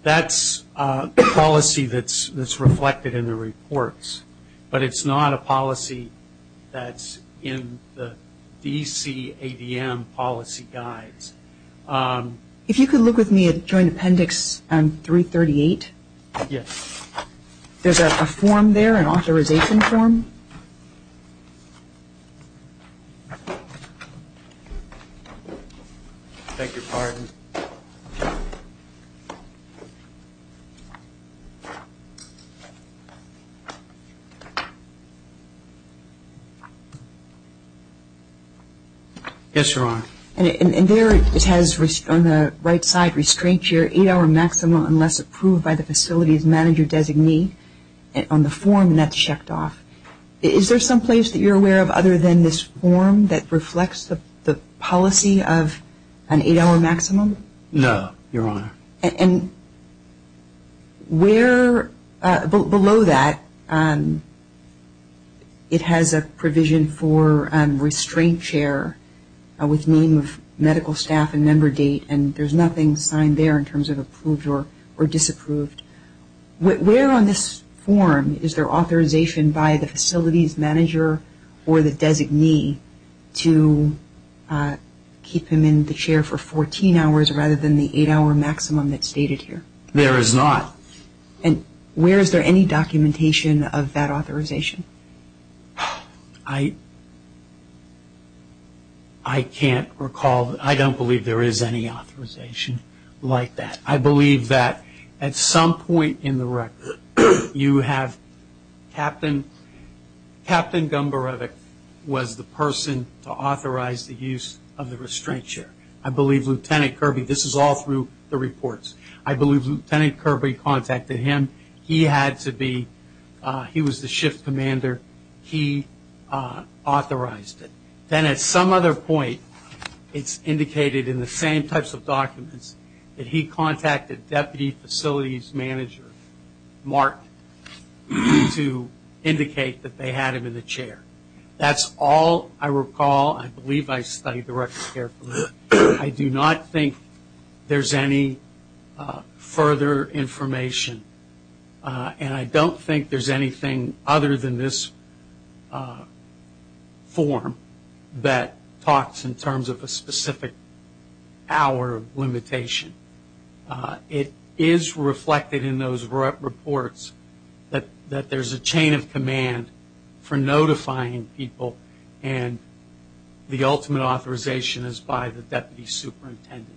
That's a policy that's reflected in the reports, but it's not a policy that's in the DCADM policy guides. If you could look with me at Joint Appendix 338. Yes. There's a form there, an authorization form. I beg your pardon. Yes. Yes, Your Honor. And there it has, on the right side, restraints your eight-hour maximum unless approved by the facilities manager designee on the form that's checked off. Is there someplace that you're aware of other than this form that reflects the policy of an eight-hour maximum? No, Your Honor. And below that, it has a provision for restraint chair with meaning of medical staff and member date, and there's nothing signed there in terms of approved or disapproved. Where on this form is there authorization by the facilities manager or the designee to keep them in the chair for 14 hours rather than the eight-hour maximum that's stated here? There is not. And where is there any documentation of that authorization? I can't recall. I don't believe there is any authorization like that. I believe that at some point in the record, you have Captain Gumbereck was the person to authorize the use of the restraint chair. I believe Lieutenant Kirby, this is all through the reports. I believe Lieutenant Kirby contacted him. He was the shift commander. He authorized it. Then at some other point, it's indicated in the same types of documents that he contacted Deputy Facilities Manager Mark to indicate that they had him in the chair. That's all I recall. I believe I studied the record carefully. I do not think there's any further information, and I don't think there's anything other than this form that talks in terms of a specific hour limitation. It is reflected in those reports that there's a chain of command for notifying people, and the ultimate authorization is by the deputy superintendent.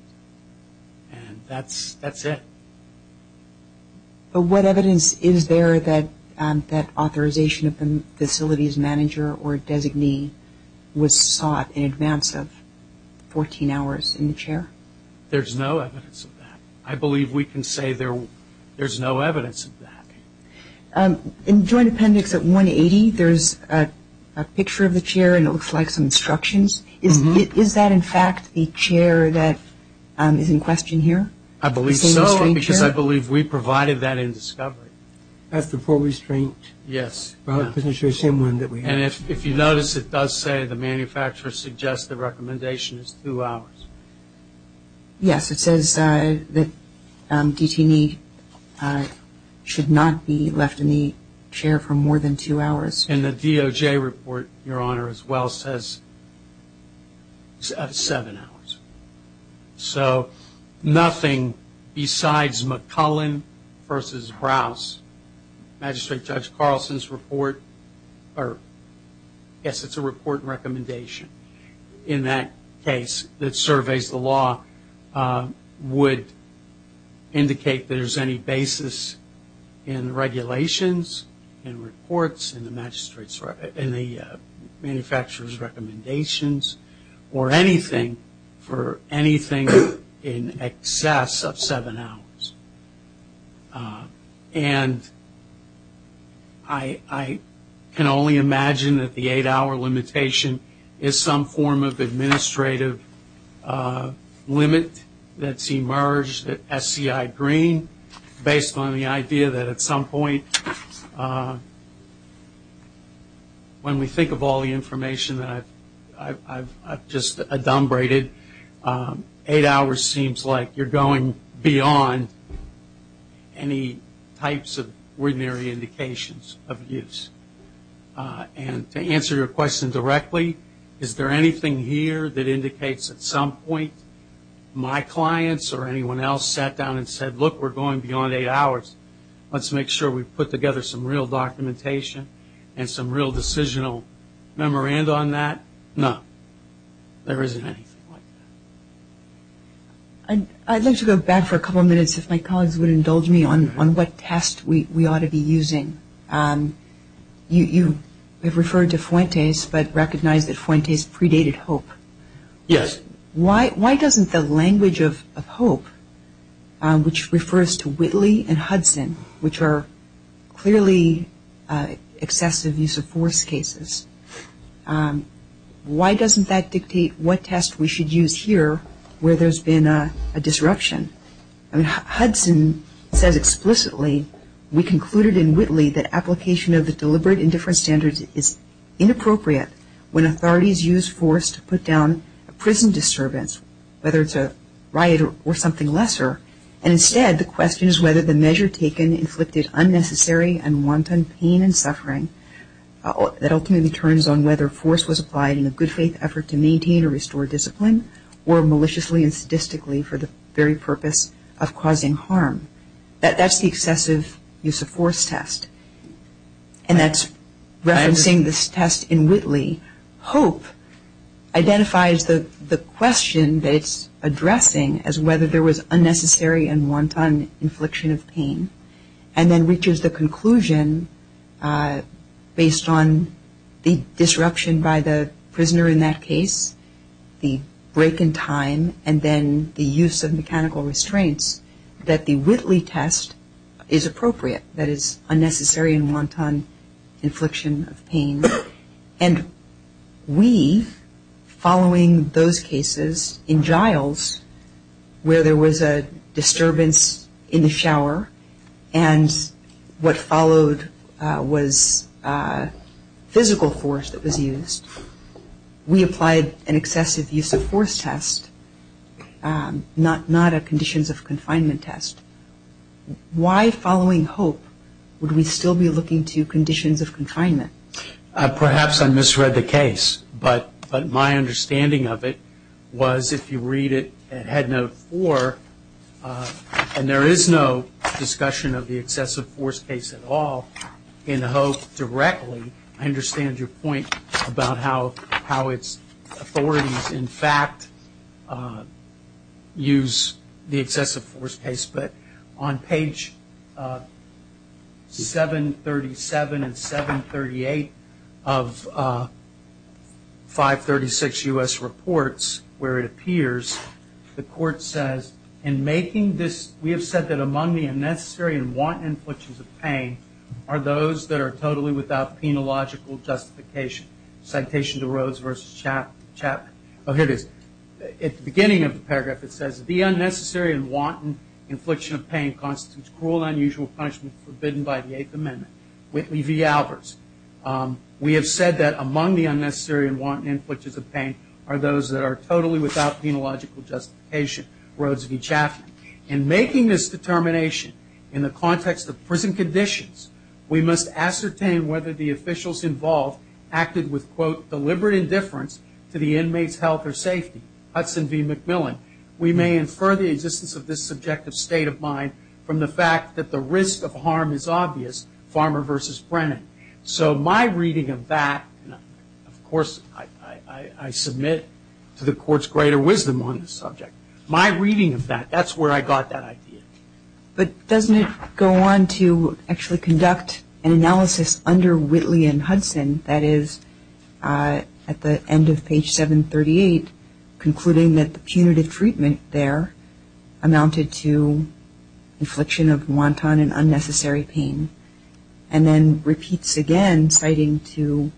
That's it. What evidence is there that that authorization of the facilities manager or designee was sought in advance of 14 hours in the chair? There's no evidence of that. I believe we can say there's no evidence of that. In Joint Appendix 180, there's a picture of the chair, and it looks like some instructions. Is that, in fact, the chair that is in question here? I believe so, because I believe we provided that in discovery. That's before restraint. Yes. And if you notice, it does say the manufacturer suggests the recommendation is two hours. Yes. It says that DT&E should not be left in the chair for more than two hours. And the DOJ report, Your Honor, as well, says seven hours. So nothing besides McClellan versus Rouse. Magistrate Judge Carlson's report, or yes, it's a report recommendation in that case that surveys the law, would indicate there's any basis in regulations, in reports, in the manufacturer's recommendations, or anything for anything in excess of seven hours. And I can only imagine that the eight-hour limitation is some form of administrative limit that's emerged at SEI Green based on the idea that at some point, when we think of all the information that I've just adumbrated, eight hours seems like you're going beyond any types of ordinary indications of use. And to answer your question directly, is there anything here that indicates at some point my clients or anyone else sat down and said, look, we're going beyond eight hours. Let's make sure we put together some real documentation and some real decisional memoranda on that. No. There isn't anything. I'd like to go back for a couple of minutes, if my colleagues would indulge me, on what test we ought to be using. You have referred to Fuentes, but recognize that Fuentes predated Hope. Yes. Why doesn't the language of Hope, which refers to Whitley and Hudson, which are clearly excessive use of force cases, why doesn't that dictate what test we should use here where there's been a disruption? I mean, Hudson said explicitly, we concluded in Whitley that application of the deliberate And he also said that in different standards it's inappropriate when authorities use force to put down a prison disturbance, whether it's a riot or something lesser. And instead, the question is whether the measure taken inflicted unnecessary and wanton pain and suffering that ultimately turns on whether force was applied in a good faith effort to maintain or restore discipline or maliciously and sadistically for the very purpose of causing harm. That's the excessive use of force test, and that's referencing this test in Whitley. Hope identifies the question that it's addressing as whether there was unnecessary and wanton infliction of pain and then reaches the conclusion, based on the disruption by the prisoner in that case, the break in time, and then the use of mechanical restraints, that the Whitley test is appropriate, that it's unnecessary and wanton infliction of pain. And we, following those cases in Giles, where there was a disturbance in the shower and what followed was physical force that was used, we applied an excessive use of force test, not a conditions of confinement test. Why, following Hope, would we still be looking to conditions of confinement? Perhaps I misread the case, but my understanding of it was, if you read it at Head Note 4, and there is no discussion of the excessive force case at all in Hope directly, I understand your point about how its authorities in fact use the excessive force case. But on page 737 and 738 of 536 U.S. Reports, where it appears, the court says, in making this, we have said that among the unnecessary and wanton inflictions of pain are those that are totally without penological justification. Citation to Rhodes versus Chapman. Oh, here it is. At the beginning of the paragraph it says, the unnecessary and wanton infliction of pain constitutes cruel and unusual punishment forbidden by the Eighth Amendment. Whitley v. Albers. We have said that among the unnecessary and wanton inflictions of pain are those that are totally without penological justification. Rhodes v. Chapman. In making this determination in the context of prison conditions, we must ascertain whether the officials involved acted with, quote, deliberate indifference to the inmate's health or safety. Hudson v. McMillan. We may infer the existence of this subjective state of mind from the fact that the risk of harm is obvious. Farmer versus Brennan. So my reading of that, of course, I submit to the court's greater wisdom on this subject. My reading of that, that's where I got that idea. But doesn't it go on to actually conduct an analysis under Whitley and Hudson, that is, at the end of page 738, concluding that the punitive treatment there amounted to infliction of wanton and unnecessary pain, and then repeats again, citing to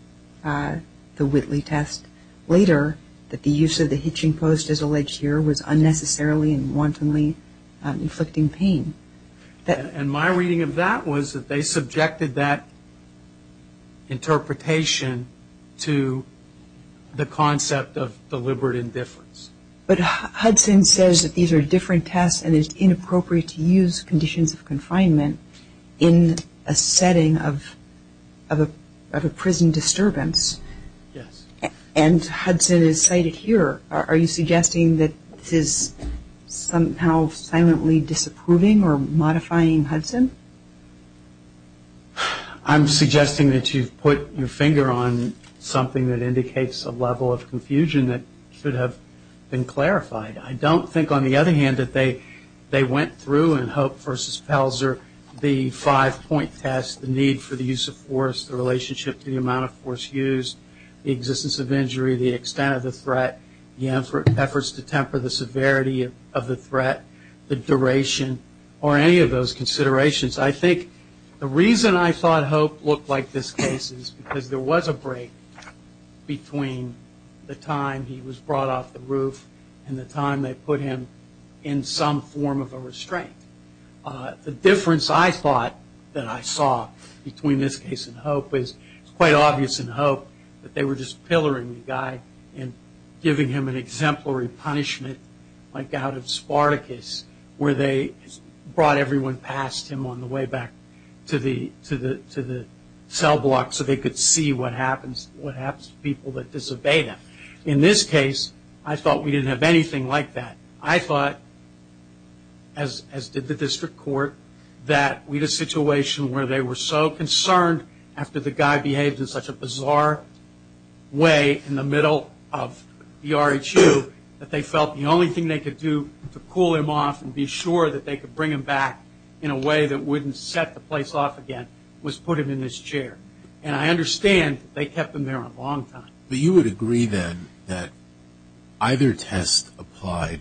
the Whitley test later, that the use of the hitching post as alleged here was unnecessarily and wantonly inflicting pain. And my reading of that was that they subjected that interpretation to the concept of deliberate indifference. But Hudson says that these are different tests and it's inappropriate to use conditions of confinement in a setting of a prison disturbance. And Hudson is cited here. Are you suggesting that this is somehow silently disapproving or modifying Hudson? I'm suggesting that you've put your finger on something that indicates a level of confusion that should have been clarified. I don't think, on the other hand, that they went through in Hope v. Pelzer the five-point test, the need for the use of force, the relationship to the amount of force used, the existence of injury, the extent of the threat, the efforts to temper the severity of the threat, the duration, or any of those considerations. I think the reason I thought Hope looked like this case is because there was a break between the time he was brought off the roof and the time they put him in some form of a restraint. The difference I thought that I saw between this case and Hope is it's quite obvious in Hope that they were just pilloring the guy and giving him an exemplary punishment like out of Spartacus where they brought everyone past him on the way back to the cell block so they could see what happens to people that disobey them. In this case, I thought we didn't have anything like that. I thought, as did the district court, that we had a situation where they were so concerned after the guy behaved in such a bizarre way in the middle of the RHU that they felt the only thing they could do to pull him off and be sure that they could bring him back in a way that wouldn't set the place off again was put him in this chair. And I understand that they kept him there a long time. But you would agree then that either test applied,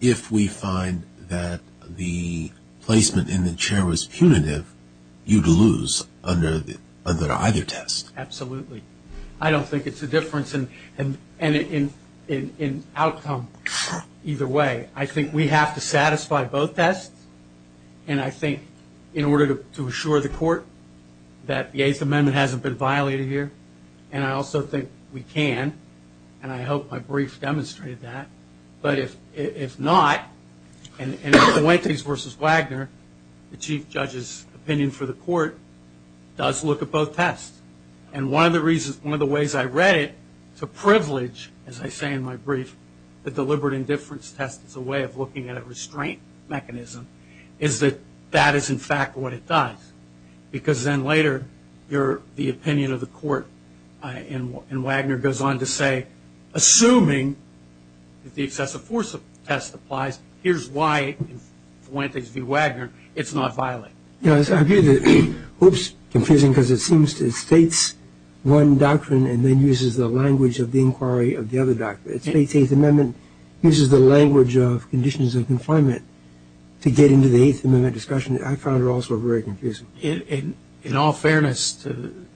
if we find that the placement in the chair was punitive, you'd lose under either test. Absolutely. I don't think it's a difference in outcome either way. I think we have to satisfy both tests. And I think in order to assure the court that the Eighth Amendment hasn't been violated here. And I also think we can. And I hope my briefs demonstrated that. But if not, and in Fuentes v. Wagner, the chief judge's opinion for the court does look at both tests. And one of the ways I read it, it's a privilege, as I say in my brief, that deliberate indifference test is a way of looking at a restraint mechanism, is that that is in fact what it does. Because then later the opinion of the court in Wagner goes on to say, assuming that the excessive force test applies, here's why, in Fuentes v. Wagner, it's not violated. It's confusing because it states one doctrine and then uses the language of the inquiry of the other doctrine. The Eighth Amendment uses the language of conditions of confinement to get into the Eighth Amendment discussion. I found it also very confusing. In all fairness to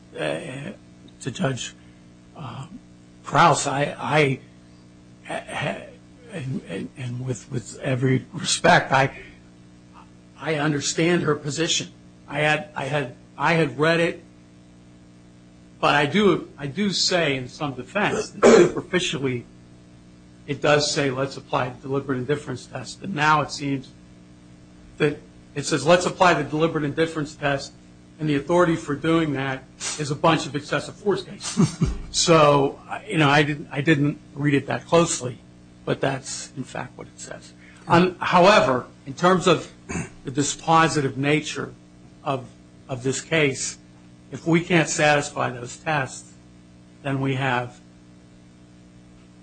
Judge Prowse, and with every respect, I understand her position. I had read it, but I do say in some defense, superficially, it does say let's apply deliberate indifference test. But now it seems that it says let's apply the deliberate indifference test, and the authority for doing that is a bunch of excessive force tests. So, you know, I didn't read it that closely, but that's in fact what it says. However, in terms of the dispositive nature of this case, if we can't satisfy those tests, then we have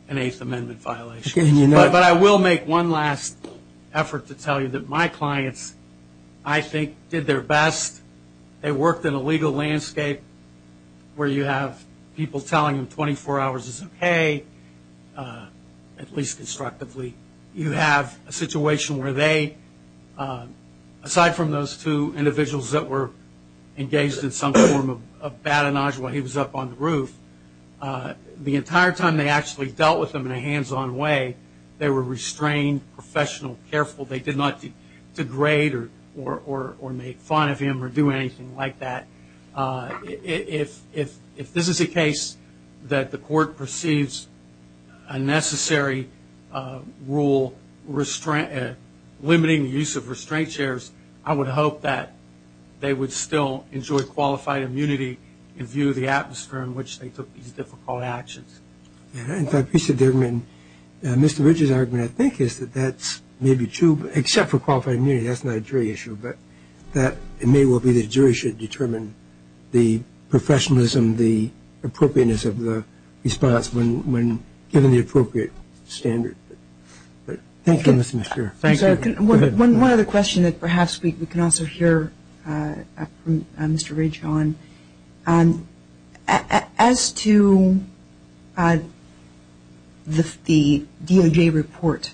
an Eighth Amendment violation. But I will make one last effort to tell you that my clients, I think, did their best. They worked in a legal landscape where you have people telling you 24 hours is okay, at least constructively. You have a situation where they, aside from those two individuals that were engaged in some form of batonage while he was up on the roof, the entire time they actually dealt with him in a hands-on way, they were restrained, professional, careful. They did not degrade or make fun of him or do anything like that. If this is a case that the court perceives a necessary rule limiting the use of restraint chairs, I would hope that they would still enjoy qualified immunity in view of the atmosphere in which they took these difficult actions. I appreciate that. Mr. Rich's argument, I think, is that that may be true, except for qualified immunity. That's not a jury issue. But it may well be that a jury should determine the professionalism, the appropriateness of the response when given the appropriate standard. Thank you, Mr. McPherson. One other question that perhaps we can also hear from Mr. Rich on. As to the DOJ report,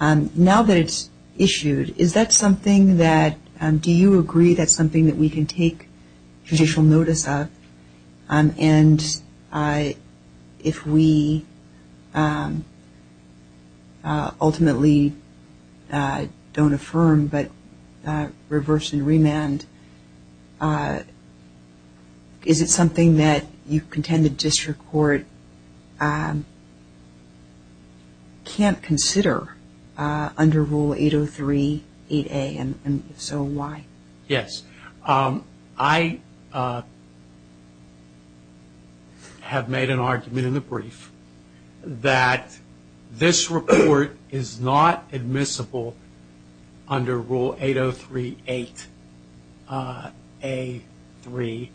now that it's issued, is that something that, do you agree that's something that we can take judicial notice of? And if we ultimately don't affirm but reverse and remand, is it something that you contend the district court can't consider under Rule 803-8A, and so why? Yes. I have made an argument in the brief that this report is not admissible under Rule 803-8A-3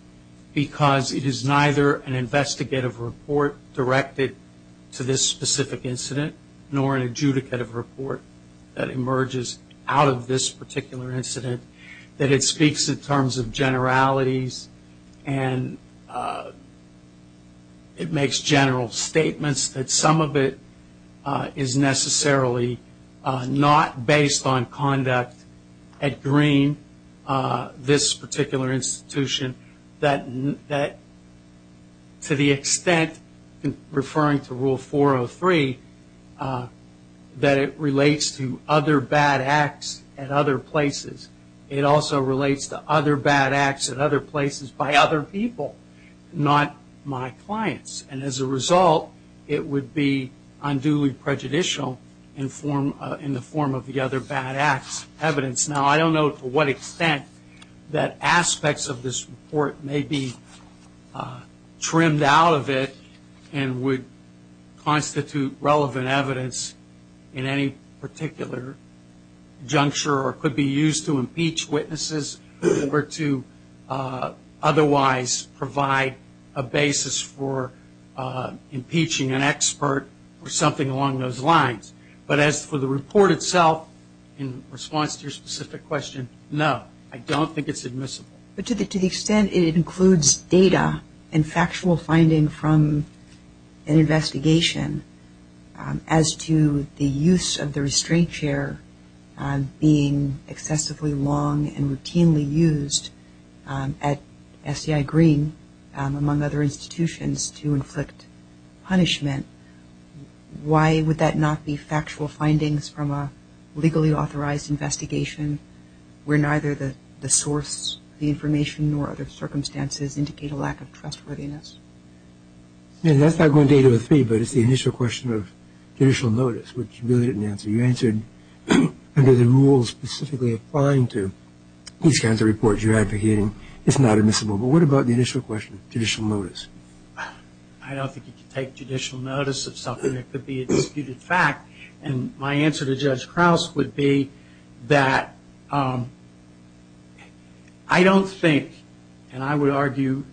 because it is neither an investigative report directed to this specific incident nor an adjudicative report that emerges out of this particular incident, that it speaks in terms of generalities and it makes general statements, that some of it is necessarily not based on conduct at green, this particular institution, that to the extent, referring to Rule 403, that it relates to other bad acts at other places. It also relates to other bad acts at other places by other people, not my clients. And as a result, it would be unduly prejudicial in the form of the other bad acts evidence. Now, I don't know to what extent that aspects of this report may be trimmed out of it and would constitute relevant evidence in any particular juncture or could be used to impeach witnesses or to otherwise provide a basis for impeaching an expert or something along those lines. But as for the report itself in response to your specific question, no, I don't think it's admissible. But to the extent it includes data and factual finding from an investigation as to the use of the restraint chair being excessively long and routinely used at SDI Green, among other institutions, to inflict punishment, why would that not be factual findings from a legally authorized investigation where neither the source, the information, nor other circumstances indicate a lack of trustworthiness? And that's not going to get you a fee, but it's the initial question of judicial notice, which you really didn't answer. You answered because the rules specifically applying to these kinds of reports you're advocating, it's not admissible. But what about the initial question of judicial notice? I don't think you can take judicial notice of something that could be a disputed fact. And my answer to Judge Krauss would be that I don't think, and I would argue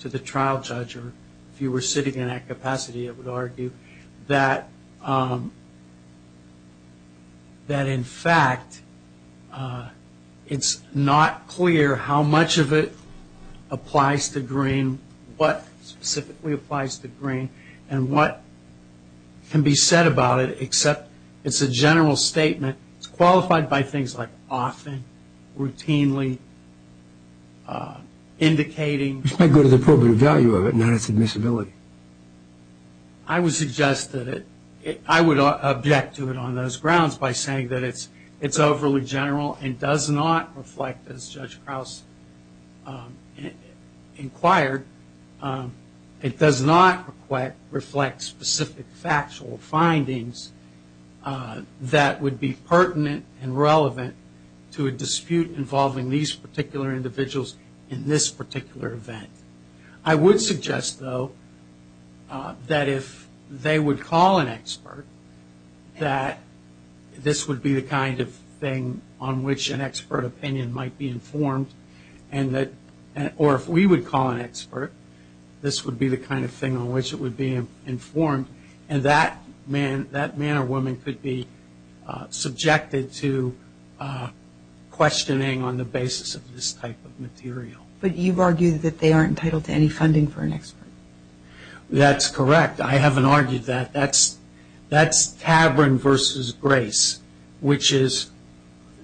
to the trial judge, or if you were sitting in that capacity, I would argue that in fact it's not clear how much of it applies to Green, what specifically applies to Green, and what can be said about it, except it's a general statement. It's qualified by things like often, routinely, indicating. It's got to go to the appropriate value of it, not its admissibility. I would suggest that it, I would object to it on those grounds by saying that it's overly general and does not reflect, as Judge Krauss inquired, it does not reflect specific factual findings that would be pertinent and relevant to a dispute involving these particular individuals in this particular event. I would suggest, though, that if they would call an expert, that this would be the kind of thing on which an expert opinion might be informed, or if we would call an expert, this would be the kind of thing on which it would be informed, and that man or woman could be subjected to questioning on the basis of this type of material. But you've argued that they aren't entitled to any funding for an expert. That's correct. I haven't argued that. That's Tavern versus Grace, which is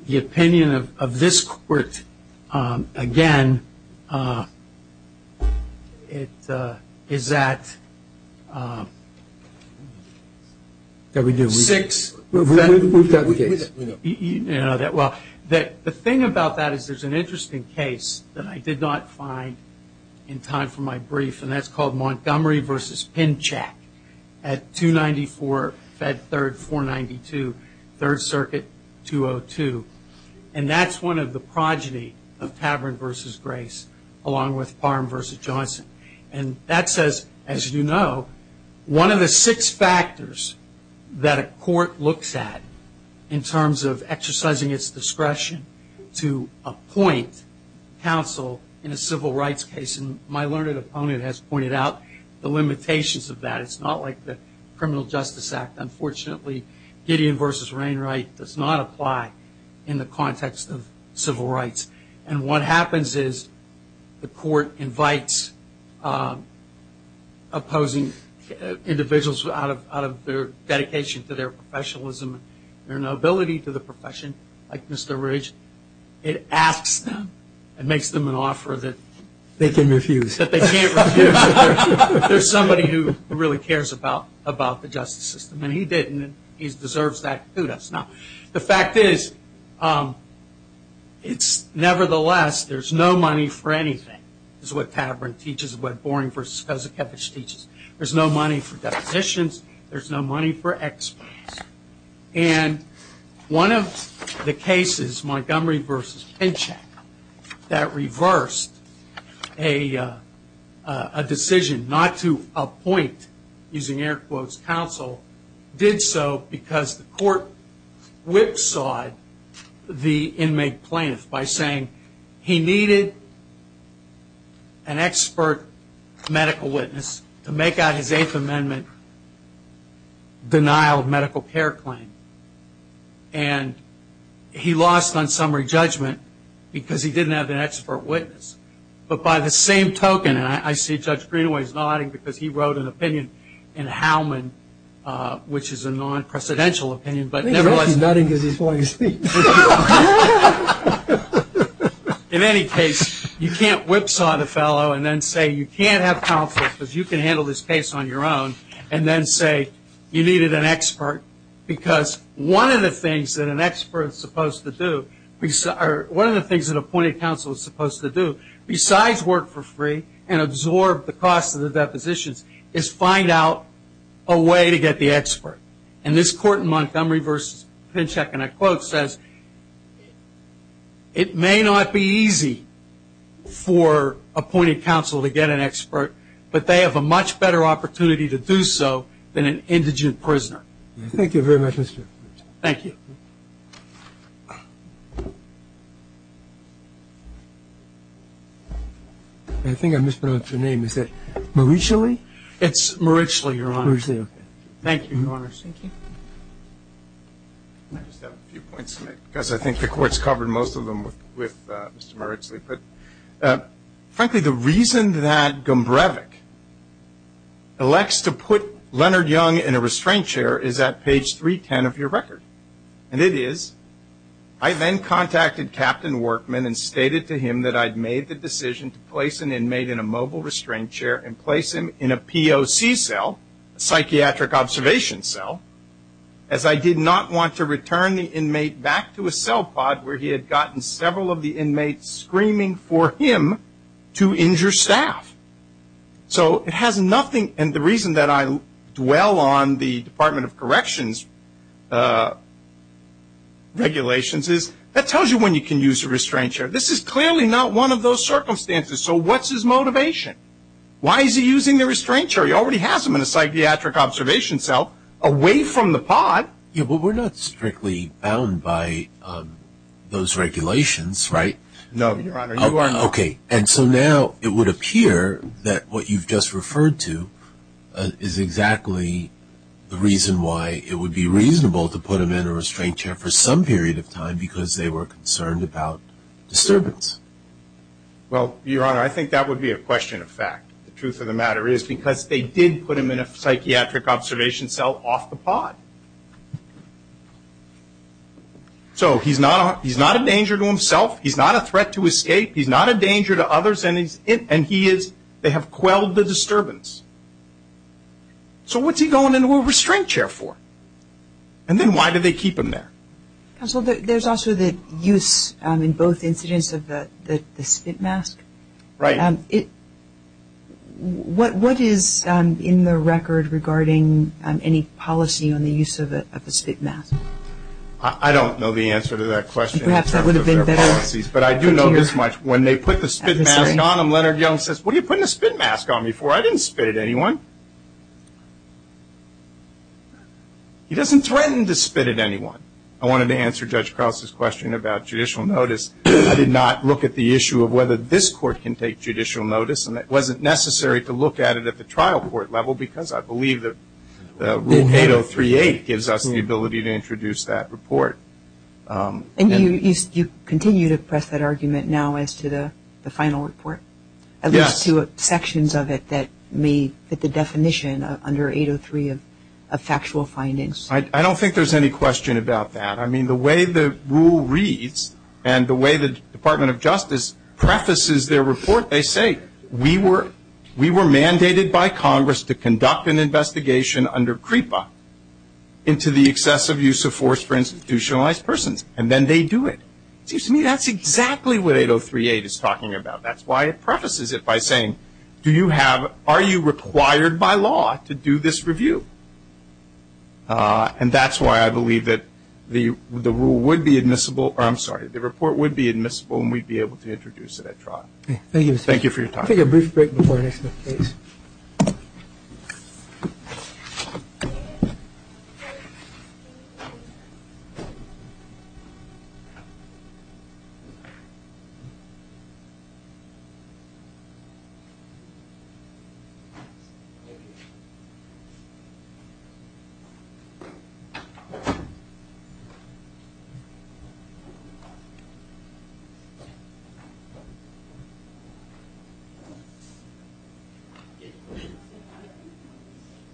the opinion of this court, again, is that... The thing about that is there's an interesting case that I did not find in time for my brief, and that's called Montgomery versus Pincheck at 294, Fed Third 492, Third Circuit 202, and that's one of the progeny of Tavern versus Grace, along with Farm versus Johnson. And that says, as you know, one of the six factors that a court looks at in terms of exercising its discretion to appoint counsel in a civil rights case. And my learned opponent has pointed out the limitations of that. It's not like the Criminal Justice Act. Unfortunately, Gideon versus Rainwright does not apply in the context of civil rights. And what happens is the court invites opposing individuals out of their dedication to their professionalism, their nobility to the profession, like Mr. Ridge. It asks them. It makes them an offer that... They can refuse. That they can't refuse. There's somebody who really cares about the justice system. And he didn't. He deserves that, too. That's not... The fact is, nevertheless, there's no money for anything. It's what Tavern teaches, what Boring versus Cusickiewicz teaches. There's no money for deputations. There's no money for executions. And one of the cases, Montgomery versus Pinchak, that reversed a decision not to appoint, using air quotes, counsel, did so because the court whipsawed the inmate plaintiff by saying he needed an expert medical witness to make out his Eighth Amendment denial of medical care claim. And he lost on summary judgment because he didn't have an expert witness. But by the same token, and I see Judge Greenway's nodding because he wrote an opinion in Howman, which is a non-presidential opinion, but nevertheless... He's nodding to this while you speak. In any case, you can't whipsaw the fellow and then say you can't have counsel because you can handle this case on your own and then say you needed an expert because one of the things that an expert is supposed to do, or one of the things that appointed counsel is supposed to do, besides work for free and absorb the cost of the depositions, is find out a way to get the expert. And this court in Montgomery versus Pinchak, in a quote, says, it may not be easy for appointed counsel to get an expert, but they have a much better opportunity to do so than an indigent prisoner. Thank you very much, Mr. Thank you. I think I mispronounced your name. Is that Marichaly? It's Marichaly, Your Honor. Thank you, Your Honor. Because I think the court's covered most of them with Mr. Marichaly. Frankly, the reason that Gumbrevich elects to put Leonard Young in a restraint chair is at page 310 of your record. And it is, I then contacted Captain Workman and stated to him that I'd made the decision to place an inmate in a mobile restraint chair and place him in a POC cell, a psychiatric observation cell, as I did not want to return the inmate back to a cell pod where he had gotten several of the inmates screaming for him to injure staff. So it has nothing, and the reason that I dwell on the Department of Corrections regulations is, that tells you when you can use a restraint chair. This is clearly not one of those circumstances. So what's his motivation? Why is he using the restraint chair? He already has him in a psychiatric observation cell away from the pod. Yeah, but we're not strictly bound by those regulations, right? No, Your Honor. Okay. And so now it would appear that what you've just referred to is exactly the reason why it would be reasonable to put him in a restraint chair for some period of time because they were concerned about disturbance. Well, Your Honor, I think that would be a question of fact. The truth of the matter is because they did put him in a psychiatric observation cell off the pod. So he's not a danger to himself. He's not a threat to escape. He's not a danger to others, and he is, they have quelled the disturbance. So what's he going into a restraint chair for? And then why do they keep him there? Counsel, there's also the use in both instances of the spit mask. Right. What is in the record regarding any policy on the use of a spit mask? I don't know the answer to that question. Perhaps that would have been better. But I do know this much. When they put the spit mask on him, Leonard Young says, what are you putting a spit mask on me for? I didn't spit at anyone. He doesn't threaten to spit at anyone. I wanted to answer Judge Krause's question about judicial notice. I did not look at the issue of whether this court can take judicial notice, and it wasn't necessary to look at it at the trial court level because I believe that Rule 8038 gives us the ability to introduce that report. And you continue to press that argument now as to the final report? Yes. As to sections of it that may fit the definition under 803 of factual findings? I don't think there's any question about that. I mean, the way the rule reads and the way the Department of Justice practices their report, they say, we were mandated by Congress to conduct an investigation under CREPA into the excessive use of force for institutionalized persons. And then they do it. To me, that's exactly what 8038 is talking about. That's why it prefaces it by saying, are you required by law to do this review? And that's why I believe that the rule would be admissible or, I'm sorry, the report would be admissible and we'd be able to introduce it at trial. Thank you. Thank you for your time. Thank you.